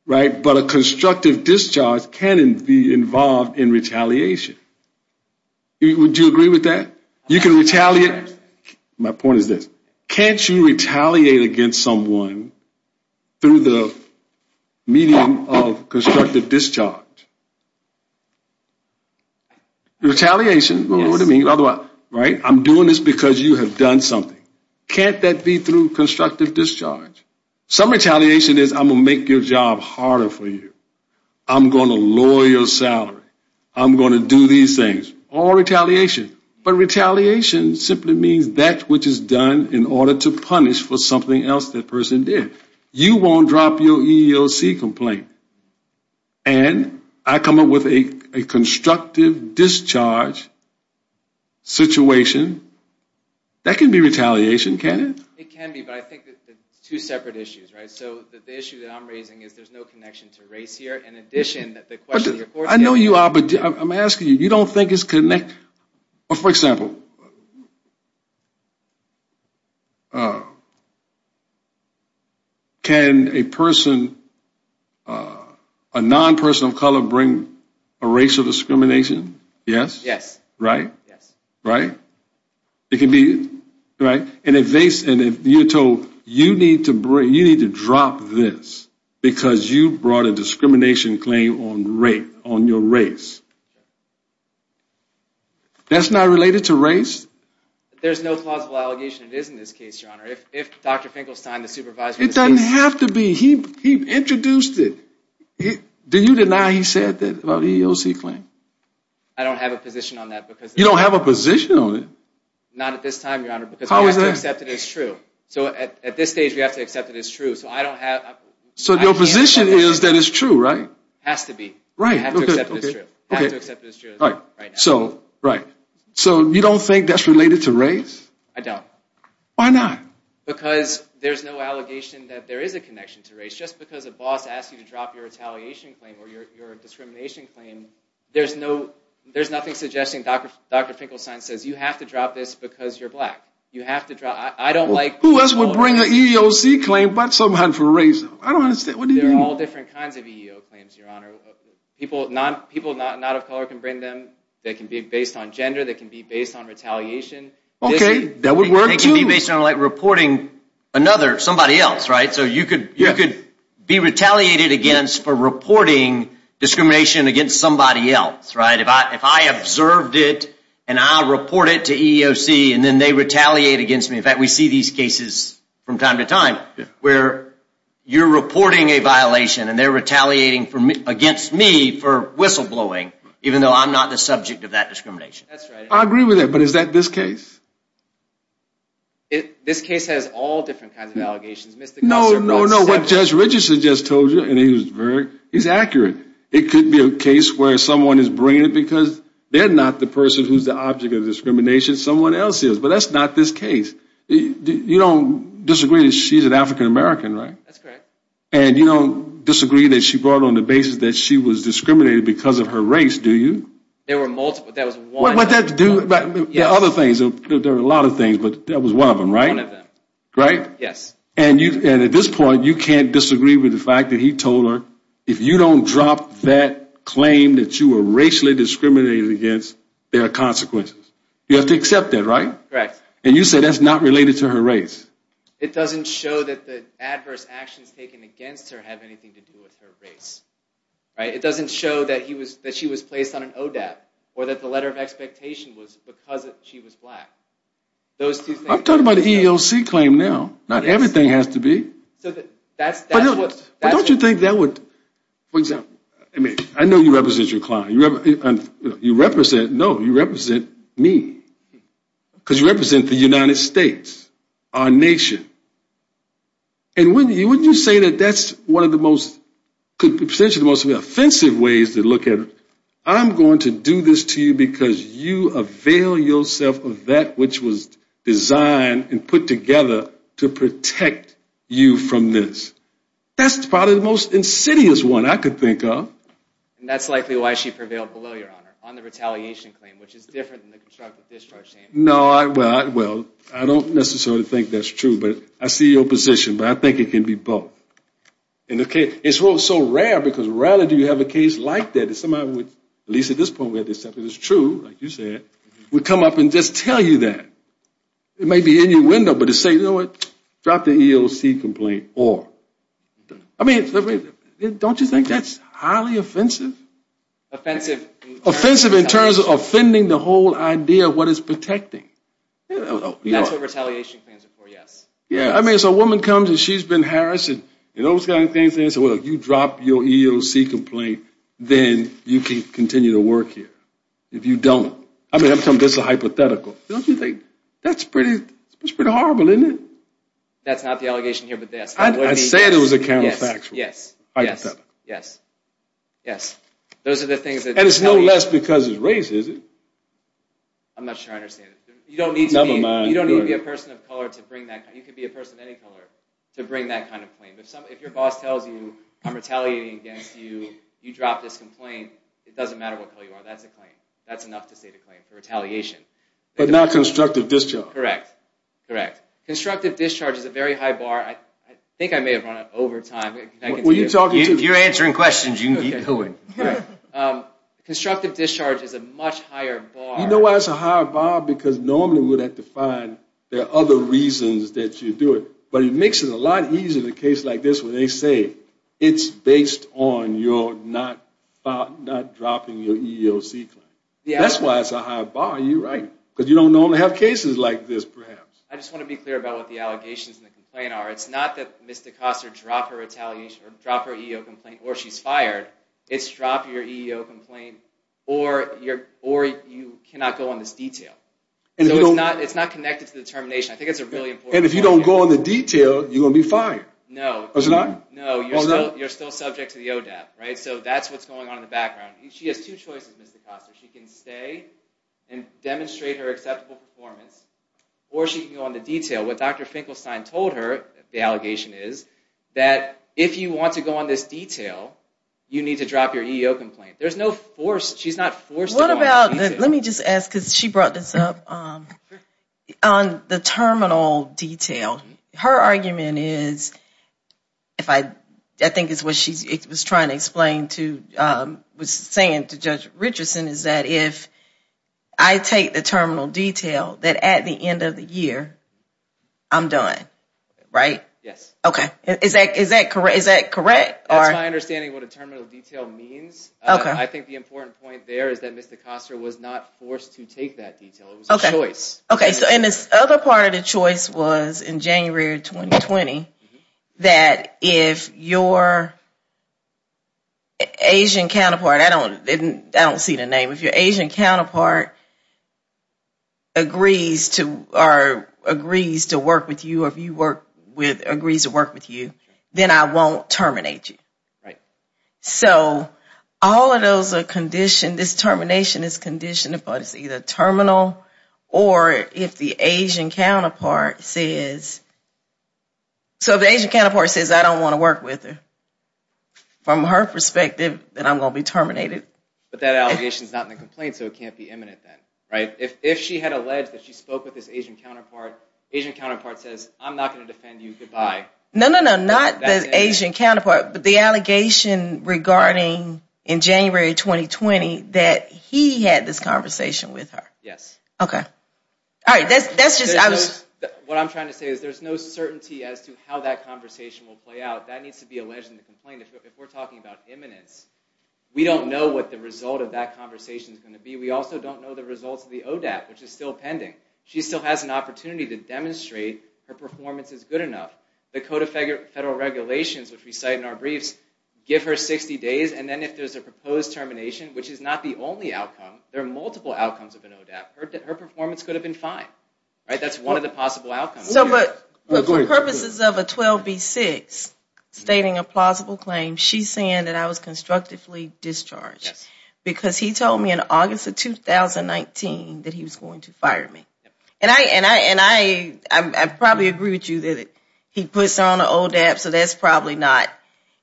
but a constructive discharge can be involved in retaliation. Would you agree with that? My point is this. Can't you retaliate against someone through the medium of constructive discharge? Retaliation. I'm doing this because you have done something. Can't that be through constructive discharge? Some retaliation is I'm going to make your job harder for you. I'm going to lower your salary. I'm going to do these things. All retaliation. But retaliation simply means that which is done in order to punish for something else that person did. You won't drop your EEOC complaint. And I come up with a constructive discharge situation. That can be retaliation, can't it? It can be, but I think it's two separate issues. The issue that I'm raising is there's no connection to race here. In addition, the question that your court is asking... I know you are, but I'm asking you. You don't think it's connected? For example, can a person, a non-person of color, bring a racial discrimination? Yes? Right? It can be. And if you are told you need to drop this because you brought a discrimination claim on your race. That's not related to race. There's no plausible allegation it is in this case, Your Honor. If Dr. Finkelstein, the supervisor... It doesn't have to be. He introduced it. Do you deny he said that about the EEOC claim? I don't have a position on that because... You don't have a position on it? Not at this time, Your Honor, because I have to accept it as true. So at this stage, we have to accept it as true. So your position is that it's true, right? It has to be. I have to accept it as true. So you don't think that's related to race? I don't. Why not? Because there's no allegation that there is a connection to race. Just because a boss asks you to drop your retaliation claim or your discrimination claim, there's nothing suggesting Dr. Finkelstein says you have to drop this because you're black. I don't like... I don't understand. There are all different kinds of EEO claims, Your Honor. People not of color can bring them. They can be based on gender. They can be based on retaliation. They can be based on reporting somebody else, right? So you could be retaliated against for reporting discrimination against somebody else, right? If I observed it and I report it to EEOC and then they retaliate against me... We see these cases from time to time where you're reporting a violation and they're retaliating against me for whistleblowing even though I'm not the subject of that discrimination. I agree with that, but is that this case? This case has all different kinds of allegations. No, no, no. What Judge Richardson just told you is accurate. It could be a case where someone is bringing it because they're not the person who's the object of discrimination. Someone else is, but that's not this case. You don't disagree that she's an African American, right? That's correct. And you don't disagree that she brought it on the basis that she was discriminated because of her race, do you? There were multiple. That was one. There are a lot of things, but that was one of them, right? One of them. And at this point, you can't disagree with the fact that he told her if you don't drop that claim that you were racially discriminated against, there are consequences. You have to accept that, right? Correct. And you say that's not related to her race. It doesn't show that the adverse actions taken against her have anything to do with her race. It doesn't show that she was placed on an ODAP or that the letter of expectation was because she was black. I'm talking about an EOC claim now. Not everything has to be. But don't you think that would... I know you represent your client. No, you represent me. Because you represent the United States. Our nation. And wouldn't you say that that's one of the most offensive ways to look at it? I'm going to do this to you because you avail yourself of that which was designed and put together to protect you from this. That's probably the most insidious one I could think of. And that's likely why she prevailed below your honor on the retaliation claim which is different than the constructive discharge claim. No, well, I don't necessarily think that's true. But I see your position. But I think it can be both. It's also rare because rarely do you have a case like that that somebody would, at least at this point where this is true, like you said, would come up and just tell you that. It may be in your window, but to say, you know what, drop the EOC complaint or... Don't you think that's highly offensive? Offensive? Offensive in terms of offending the whole idea of what is protecting. That's what retaliation claims are for, yes. Yeah, I mean, so a woman comes and she's been harassed and you drop your EOC complaint, then you can continue to work here if you don't. I mean, this is a hypothetical. Don't you think that's pretty horrible, isn't it? That's not the allegation here, but yes. I said it was a counterfactual. Yes, yes, yes. And it's no less because it's racist. I'm not sure I understand it. You don't need to be a person of color to bring that kind of claim. You can be a person of any color to bring that kind of claim. If your boss tells you, I'm retaliating against you, you drop this complaint, it doesn't matter what color you are. That's a claim. But not constructive discharge. Correct. Constructive discharge is a very high bar. I think I may have run it over time. If you're answering questions, you can keep going. Constructive discharge is a much higher bar. You know why it's a higher bar? Because normally we would have to find there are other reasons that you do it. But it makes it a lot easier in a case like this where they say, it's based on your not dropping your EOC claim. That's why it's a high bar. You're right. Because you don't normally have cases like this, perhaps. I just want to be clear about what the allegations and the complaint are. It's not that Ms. DaCosta dropped her EEO complaint or she's fired. It's drop your EEO complaint or you cannot go on this detail. So it's not connected to the termination. I think it's a really important point. And if you don't go on the detail, you're going to be fired. No. You're still subject to the ODEP. So that's what's going on in the background. She has two choices, Ms. DaCosta. She can stay and demonstrate her acceptable performance. Or she can go on the detail. What Dr. Finkelstein told her, the allegation is, that if you want to go on this detail, you need to drop your EEO complaint. She's not forced to go on the detail. Let me just ask because she brought this up. On the terminal detail, her argument is, I think it's what she was trying to explain to, was saying to Judge Richardson, is that if I take the terminal detail, that at the end of the year, I'm done. Right? Yes. Is that correct? That's my understanding of what a terminal detail means. I think the important point there is that Ms. DaCosta was not forced to take that detail. It was a choice. And this other part of the choice was in January of 2020, that if your Asian counterpart, I don't see the name, if your Asian counterpart agrees to work with you, then I won't terminate you. Right. So, all of those are conditioned, this termination is conditioned upon it's either terminal, or if the Asian counterpart says, so if the Asian counterpart says I don't want to work with her, from her perspective, then I'm going to be terminated. But that allegation is not in the complaint, so it can't be imminent then. If she had alleged that she spoke with this Asian counterpart, Asian counterpart says, I'm not going to defend you, goodbye. No, not the Asian counterpart, but the allegation regarding in January 2020 that he had this conversation with her. Yes. What I'm trying to say is there's no certainty as to how that conversation will play out. That needs to be alleged in the complaint. If we're talking about imminence, we don't know what the result of that conversation is going to be. We also don't know the results of the ODAP, which is still pending. She still has an opportunity to demonstrate her performance is good enough. The Code of Federal Regulations, which we cite in our briefs, give her 60 days, and then if there's a proposed termination, which is not the only outcome, there are multiple outcomes of an ODAP, her performance could have been fine. That's one of the possible outcomes. For purposes of a 12B6, stating a plausible claim, she's saying that I was constructively discharged. Because he told me in August of 2019 that he was going to fire me. I probably agree with you that he puts her on an ODAP, so that's probably not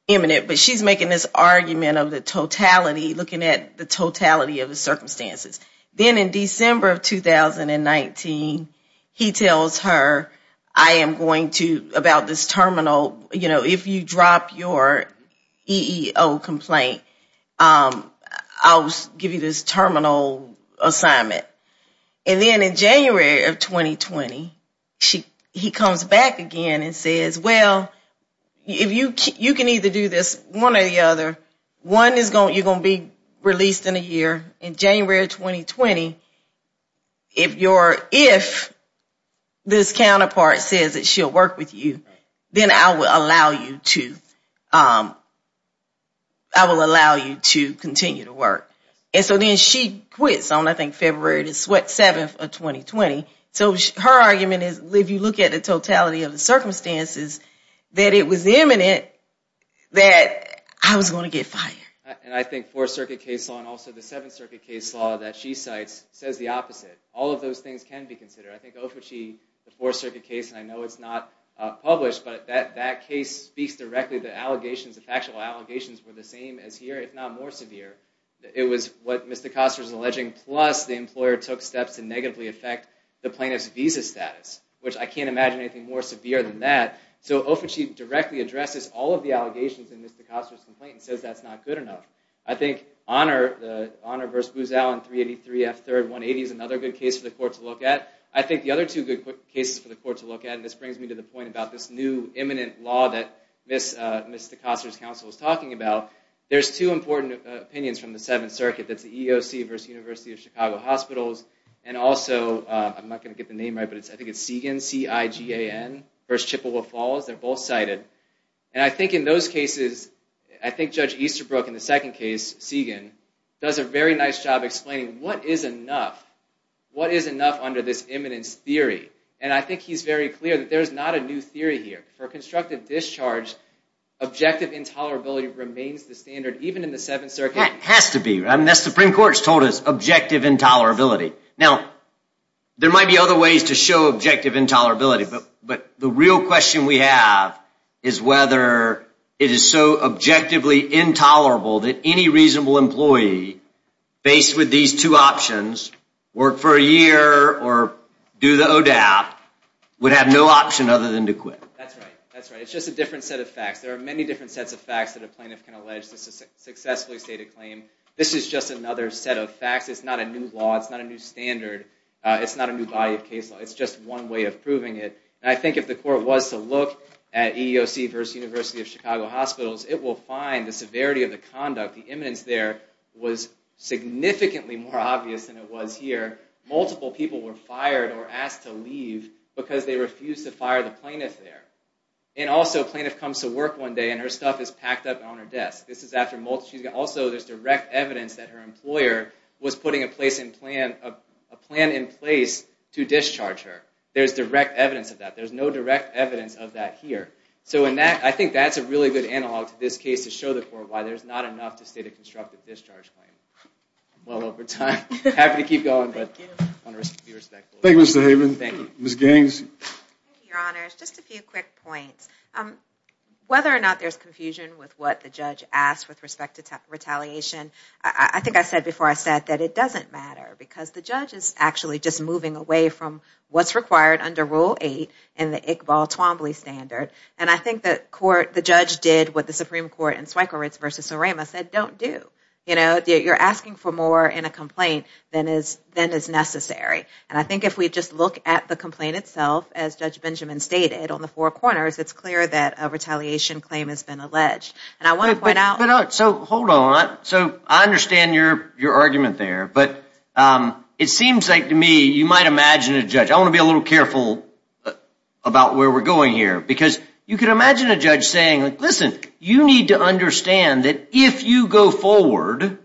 imminent. But she's making this argument of the totality, looking at the totality of the circumstances. Then in December of 2019, he tells her about this terminal. If you drop your EEO complaint, I'll give you this terminal assignment. And then in January of 2020, he comes back again and says, well, you can either do this one or the other. You're going to be released in a year. In January of 2020, if this counterpart says that she'll work with you, then I will allow you to continue to work. Then she quits on February 7 of 2020. Her argument is, if you look at the totality of the circumstances, that it was imminent that I was going to get fired. I think the Fourth Circuit case law and also the Seventh Circuit case law that she cites says the opposite. All of those things can be considered. I know it's not published, but that case speaks directly to the allegations. The factual allegations were the same as here, if not more severe. It was what Mr. Koster is alleging, plus the employer took steps to negatively affect the plaintiff's visa status, which I can't imagine anything more severe than that. So Ofichie directly addresses all of the allegations in Mr. Koster's complaint and says that's not good enough. I think Honor v. Booz Allen, 383 F. 3rd, 180 is another good case for the court to look at. I think the other two good cases for the court to look at, and this brings me to the point about this new imminent law that Ms. DeKoster's counsel was talking about, there's two important opinions from the Seventh Circuit. That's the EEOC v. University of Chicago Hospitals, and also, I'm not going to get the name right, but I think it's Seigan, C-I-G-A-N v. Chippewa Falls. They're both cited, and I think in those cases, I think Judge Easterbrook in the second case, Seigan, does a very nice job explaining what is enough, what is enough under this imminence theory, and I think he's very clear that there's not a new theory here. For constructive discharge, objective intolerability remains the standard even in the Seventh Circuit. It has to be. The Supreme Court's told us objective intolerability. Now, there might be other ways to show objective intolerability, but the real question we have is whether it is so objectively intolerable that any reasonable employee faced with these two options, work for a year or do the ODAP, would have no option other than to quit. That's right. That's right. It's just a different set of facts. There are many different sets of facts that a plaintiff can allege to successfully state a claim. This is just another set of facts. It's not a new law. It's not a new standard. It's not a new body of case law. It's just one way of proving it. And I think if the court was to look at EEOC versus University of Chicago hospitals, it will find the severity of the conduct, the imminence there, was significantly more obvious than it was here. Multiple people were fired or asked to leave because they refused to fire the plaintiff there. And also, a plaintiff comes to work one day and her stuff is packed up on her desk. Also, there's direct evidence that her employer was putting a plan in place to discharge her. There's direct evidence of that. There's no direct evidence of that here. So I think that's a really good analog to this case to show the court why there's not enough to state a constructive discharge claim. I'm well over time. I'm happy to keep going. Thank you, Mr. Haven. Ms. Gaines. Thank you, Your Honors. Just a few quick points. Whether or not there's confusion with what the judge asked with respect to retaliation, I think I said before I sat that it doesn't matter because the judge is actually just moving away from what's required under Rule 8 and the Iqbal Twombly standard. And I think that the judge did what the Supreme Court in Zweigowitz versus Sorama said, don't do. You're asking for more in a complaint than is necessary. And I think if we just look at the complaint itself, as Judge Benjamin stated, on the four corners, it's clear that a retaliation claim has been alleged. And I want to point out... Hold on. I understand your argument there. But it seems like to me, you might imagine a judge... I want to be a little careful about where we're going here. Because you can imagine a judge saying, listen, you need to understand that if you go forward,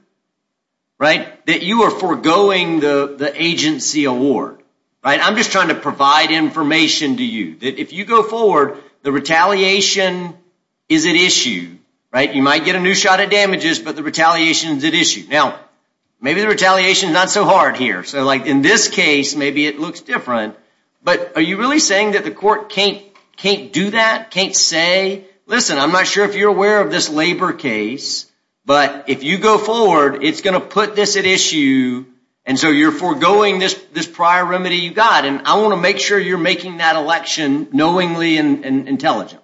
that you are forgoing the agency award. I'm just trying to provide information to you. That if you go forward, the retaliation is at issue. You might get a new shot at damages, but the retaliation is at issue. Now, maybe the retaliation is not so hard here. So in this case, maybe it looks different. But are you really saying that the court can't do that? Can't say, listen, I'm not sure if you're aware of this labor case, but if you go forward, it's going to put this at issue. And so you're foregoing this prior remedy you got. And I want to make sure you're making that election knowingly and intelligently.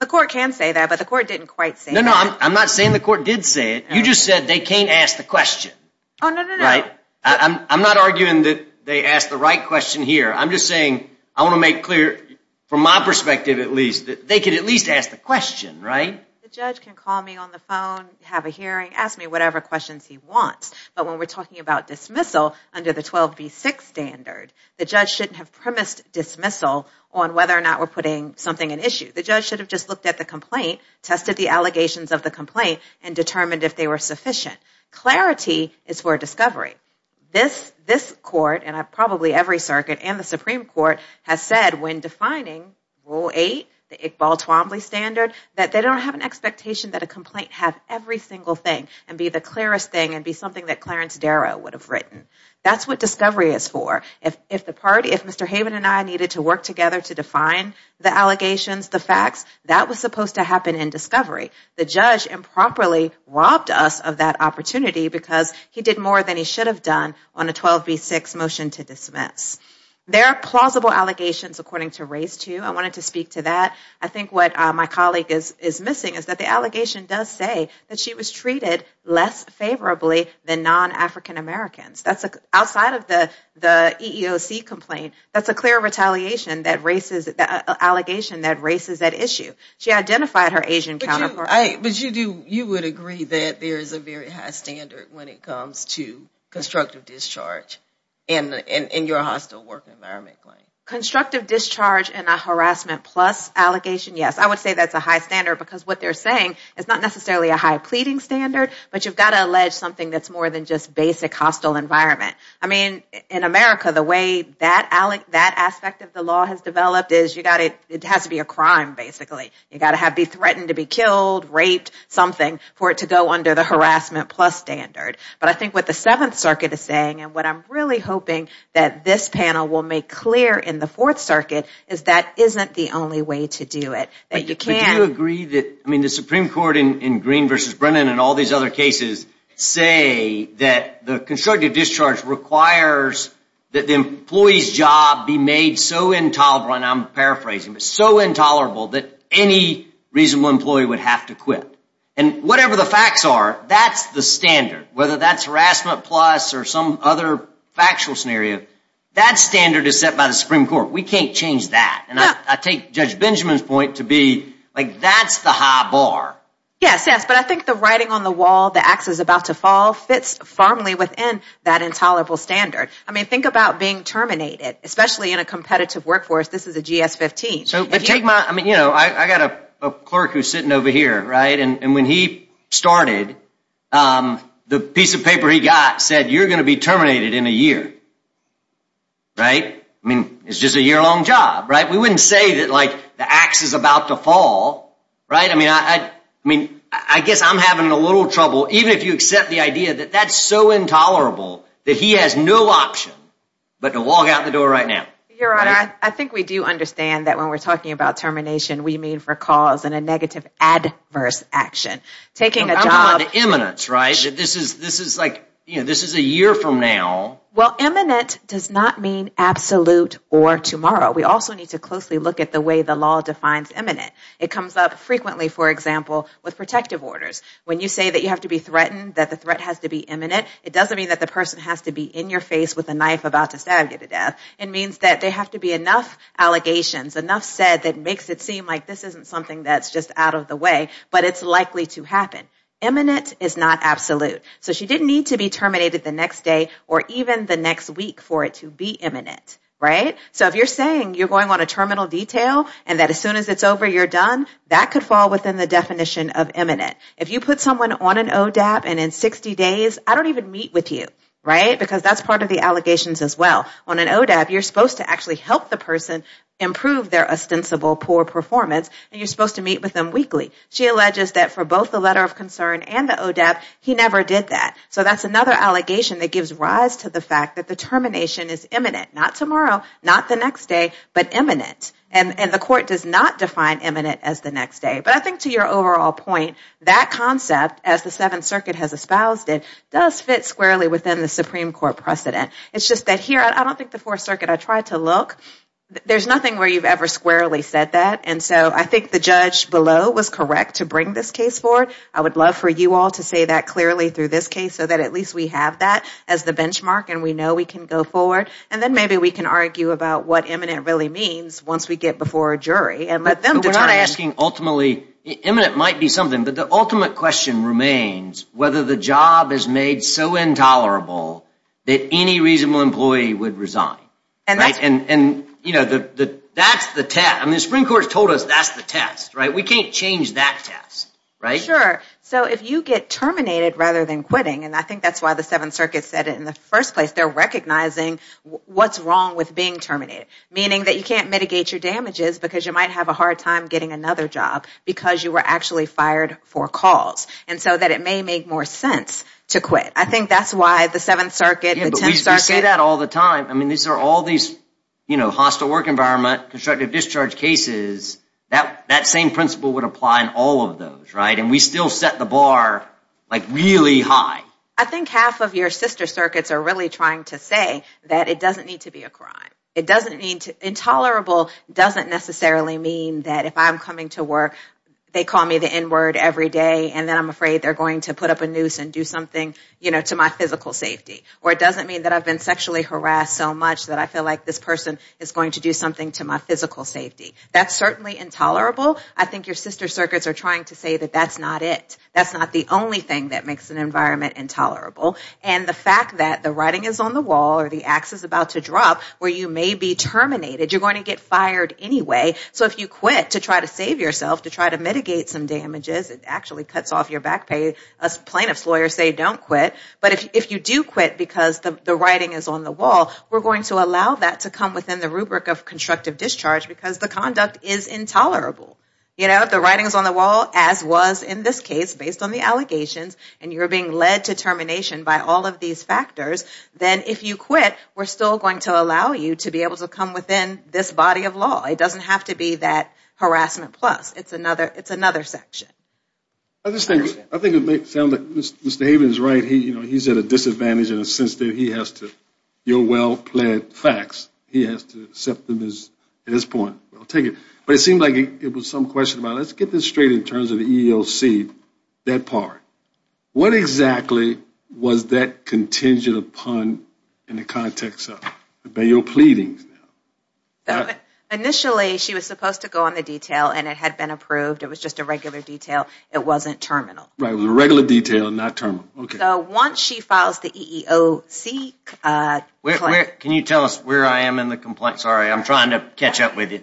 The court can say that, but the court didn't quite say that. No, no. I'm not saying the court did say it. You just said they can't ask the question. Oh, no, no, no. I'm not arguing that they asked the right question here. I'm just saying, I want to make clear, from my perspective at least, that they can at least ask the question, right? The judge can call me on the phone, have a hearing, ask me whatever questions he wants. But when we're talking about The judge shouldn't have premised dismissal on whether or not we're putting something at issue. The judge should have just looked at the complaint, tested the allegations of the complaint, and determined if they were sufficient. Clarity is for discovery. This court, and probably every circuit and the Supreme Court, has said when defining Rule 8, the Iqbal Twombly Standard, that they don't have an expectation that a complaint have every single thing and be the clearest thing and be something that Clarence Darrow would have If Mr. Haven and I needed to work together to define the allegations, the facts, that was supposed to happen in discovery. The judge improperly robbed us of that opportunity because he did more than he should have done on a 12B6 motion to dismiss. There are plausible allegations, according to race 2. I wanted to speak to that. I think what my colleague is missing is that the allegation does say that she was treated less favorably than non-African Americans. Outside of the EEOC complaint, that's a clear retaliation, an allegation that races that issue. She identified her Asian counterpart. You would agree that there is a very high standard when it comes to constructive discharge in your hostile work environment claim? Constructive discharge in a harassment plus allegation, yes. I would say that's a high standard because what they're saying is not necessarily a high pleading standard, but you've got to allege something that's more than just basic hostile environment. I mean, in America, the way that aspect of the law has developed is it has to be a crime, basically. You've got to be threatened to be killed, raped, something for it to go under the harassment plus standard. But I think what the 7th Circuit is saying, and what I'm really hoping that this panel will make clear in the 4th Circuit, is that isn't the only way to do it. Do you agree that the Supreme Court in Green v. Brennan and all these other cases say that the constructive discharge requires that the employee's job be made so intolerable, and I'm paraphrasing, but so intolerable that any reasonable employee would have to quit. And whatever the facts are, that's the standard. Whether that's harassment plus or some other factual scenario, that standard is set by the Supreme Court. We can't change that. And I take Judge Benjamin's point to be, like, that's the high bar. Yes, yes, but I think the writing on the wall, the axe is about to fall fits firmly within that intolerable standard. I mean, think about being terminated, especially in a competitive workforce. This is a GS-15. I got a clerk who's sitting over here, right? And when he started, the right? I mean, it's just a year-long job, right? We wouldn't say that, like, the axe is about to fall, right? I mean, I guess I'm having a little trouble, even if you accept the idea that that's so intolerable that he has no option but to walk out the door right now. Your Honor, I think we do understand that when we're talking about termination, we mean for cause and a negative adverse action. Taking a job... I'm on the imminence, right? This is, like, this is a year from now. Well, imminent does not mean absolute or tomorrow. We also need to closely look at the way the law defines imminent. It comes up frequently, for example, with protective orders. When you say that you have to be threatened, that the threat has to be imminent, it doesn't mean that the person has to be in your face with a knife about to stab you to death. It means that there have to be enough allegations, enough said that makes it seem like this isn't something that's just out of the way, but it's likely to happen. Imminent is not absolute. So she didn't need to be terminated the next day or even the next week for it to be imminent, right? So if you're saying you're going on a terminal detail and that as soon as it's over, you're done, that could fall within the definition of imminent. If you put someone on an ODAP and in 60 days, I don't even meet with you, right? Because that's part of the allegations as well. On an ODAP, you're supposed to actually help the person improve their ostensible poor performance and you're supposed to meet with them weekly. She alleges that for both the letter of concern and the ODAP, he never did that. So that's another allegation that gives rise to the fact that the termination is imminent. Not tomorrow, not the next day, but imminent. And the court does not define imminent as the next day. But I think to your overall point, that concept as the Seventh Circuit has espoused it, does fit squarely within the Supreme Court precedent. It's just that here I don't think the Fourth Circuit, I tried to look, there's nothing where you've ever squarely said that and so I think the judge below was correct to bring this case forward. I would love for you all to say that clearly through this case so that at least we have that as the benchmark and we know we can go forward and then maybe we can argue about what imminent really means once we get before a jury and let them determine. But we're not asking ultimately, imminent might be something, but the ultimate question remains whether the job is made so intolerable that any reasonable employee would resign. And that's the test. The Supreme Court has told us that's the test. We can't change that test. Sure. So if you get terminated rather than quitting, and I think that's why the Seventh Circuit said it in the first place, they're recognizing what's wrong with being terminated. Meaning that you can't mitigate your damages because you might have a hard time getting another job because you were actually fired for cause. And so that it may make more sense to quit. I think that's why the Seventh Circuit, the Tenth Circuit. We say that all the time. These are all these hostile work environment, constructive discharge cases. That same principle would apply in all of those. And we still set the bar really high. I think half of your sister circuits are really trying to say that it doesn't need to be a crime. Intolerable doesn't necessarily mean that if I'm coming to work they call me the N word every day and then I'm afraid they're going to put up a noose and do something to my physical safety. Or it doesn't mean that I've been sexually harassed so much that I feel like this person is going to do something to my physical safety. That's certainly intolerable. I think your sister circuits are trying to say that that's not it. That's not the only thing that makes an environment intolerable. And the fact that the writing is on the wall or the ax is about to drop where you may be terminated, you're going to get fired anyway. So if you quit to try to save yourself, to try to mitigate some damages, it actually cuts off your back pay. Plaintiffs' lawyers say don't quit. But if you do quit because the writing is on the wall, we're going to allow that to come within the rubric of constructive discharge because the conduct is intolerable. The writing is on the wall as was in this case based on the allegations and you're being led to termination by all of these factors then if you quit, we're still going to allow you to be able to come within this body of law. It doesn't have to be that harassment plus. It's another section. I think it may sound like Mr. Haven is right. He's at a disadvantage in the sense that he has to your well-pled facts, he has to accept them at this point. I'll take it. But it seemed like it was some question about let's get this straight in terms of the EEOC, that part. What exactly was that contingent upon in the context of your pleadings? Initially she was supposed to go on the detail and it had been approved. It was just a regular detail. It wasn't terminal. It was a regular detail, not terminal. Once she files the EEOC Can you tell us where I am in the complaint? I'm trying to catch up with you.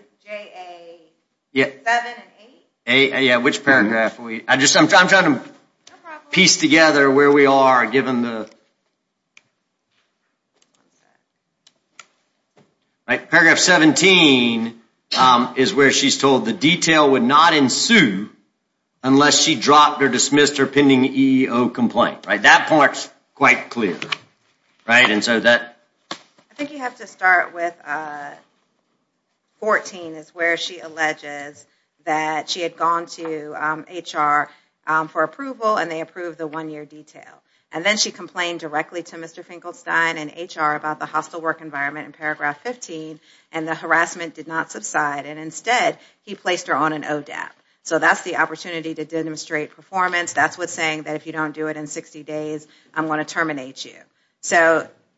Which paragraph? I'm trying to piece together where we are given the paragraph 17 is where she's told the detail would not ensue unless she dropped or dismissed her pending EEOC complaint. That part is quite clear. I think you have to start with 14 is where she alleges that she had gone to HR for approval and they approved the one year detail. And then she complained directly to Mr. Finkelstein in HR about the hostile work environment in paragraph 15 and the harassment did not subside and instead he placed her on an ODAP. So that's the opportunity to demonstrate performance. That's what's saying that if you don't do it in 60 days I'm going to terminate you.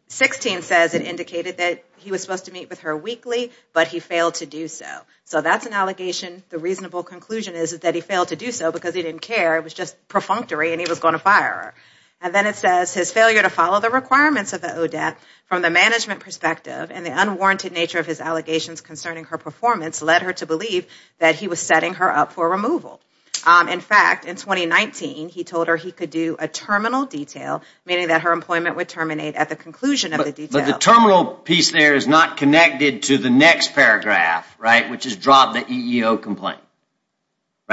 16 says it indicated that he was supposed to meet with her weekly but he failed to do so. So that's an allegation. The reasonable conclusion is that he failed to do so because he didn't care. It was just perfunctory and he was going to fire her. And then it says his failure to follow the requirements of the ODAP from the management perspective and the unwarranted nature of his allegations concerning her performance led her to believe that he was setting her up for removal. In fact, in 2019 he told her he could do a terminal detail meaning that her employment would terminate at the conclusion of the detail. But the terminal piece there is not connected to the next paragraph which is drop the EEOC complaint.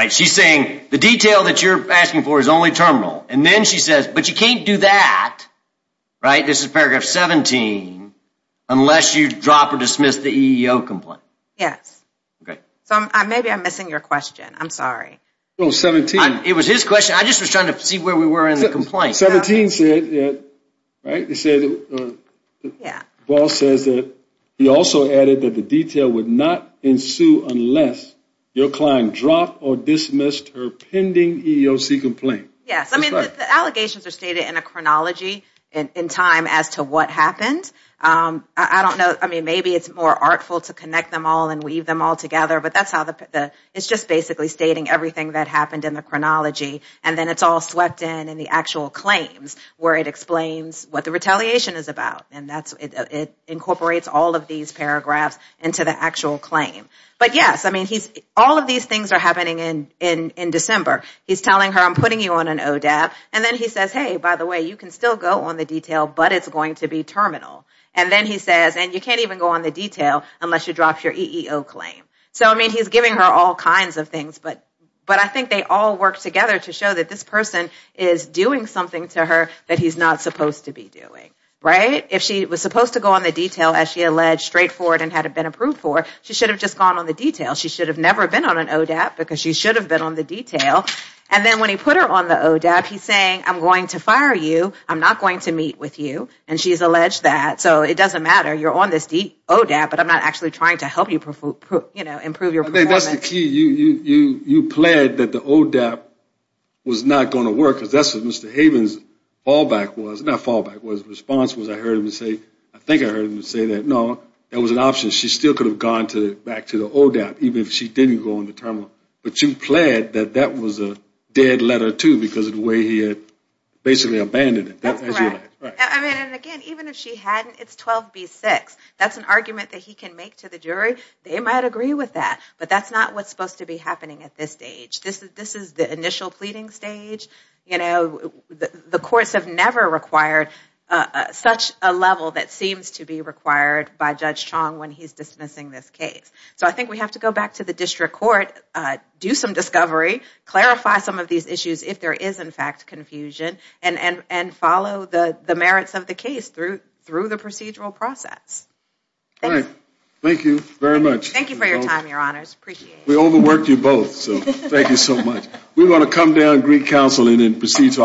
She's saying the detail that you're asking for is only terminal. And then she says but you can't do that. This is paragraph 17 unless you drop or dismiss the EEOC complaint. Yes. So maybe I'm missing your question. I'm sorry. It was his question. I just was trying to see where we were in the complaint. 17 said that he also added that the detail would not ensue unless your client dropped or dismissed her pending EEOC complaint. Yes. I mean the allegations are stated in a chronology in time as to what happened. I don't know. I mean maybe it's more artful to connect them all and weave them all together. But that's how the it's just basically stating everything that happened in the chronology and then it's all swept in in the actual claims where it explains what the retaliation is about. And it incorporates all of these paragraphs into the actual claim. But yes I mean all of these things are happening in December. He's telling her I'm putting you on an ODAB and then he says hey by the way you can still go on the detail but it's going to be terminal. And then he says and you can't even go on the detail unless you drop your EEOC claim. So I mean he's giving her all kinds of things but I think they all work together to show that this person is doing something to her that he's not supposed to be doing. Right? If she was supposed to go on the detail as she alleged straightforward and had it been approved for she should have just gone on the detail. She should have never been on an ODAB because she should have been on the detail. And then when he put her on the ODAB he's saying I'm going to fire you. I'm not going to meet with you. And she's alleged that. So it doesn't matter. You're on this ODAB but I'm not actually trying to help you improve your performance. I think that's the key. You pled that the ODAB was not going to work because that's what Mr. Havens response was I heard him say, I think I heard him say that no, that was an option. She still could have gone back to the ODAB even if she didn't go on the terminal. But you pled that that was a dead letter too because of the way he had basically abandoned it. That's correct. And again even if she hadn't it's 12B6. That's an argument that he can make to the jury. They might agree with that. But that's not what's supposed to be happening at this stage. This is the initial pleading stage. The courts have never required such a level that seems to be required by Judge Chong when he's dismissing this case. So I think we have to go back to the district court, do some discovery, clarify some of these issues if there is in fact confusion and follow the merits of the case through the procedural process. Thank you very much. Thank you for your time, your honors. Appreciate it. We overworked you both so thank you so much. We're going to come down and greet counsel and then proceed to our next case.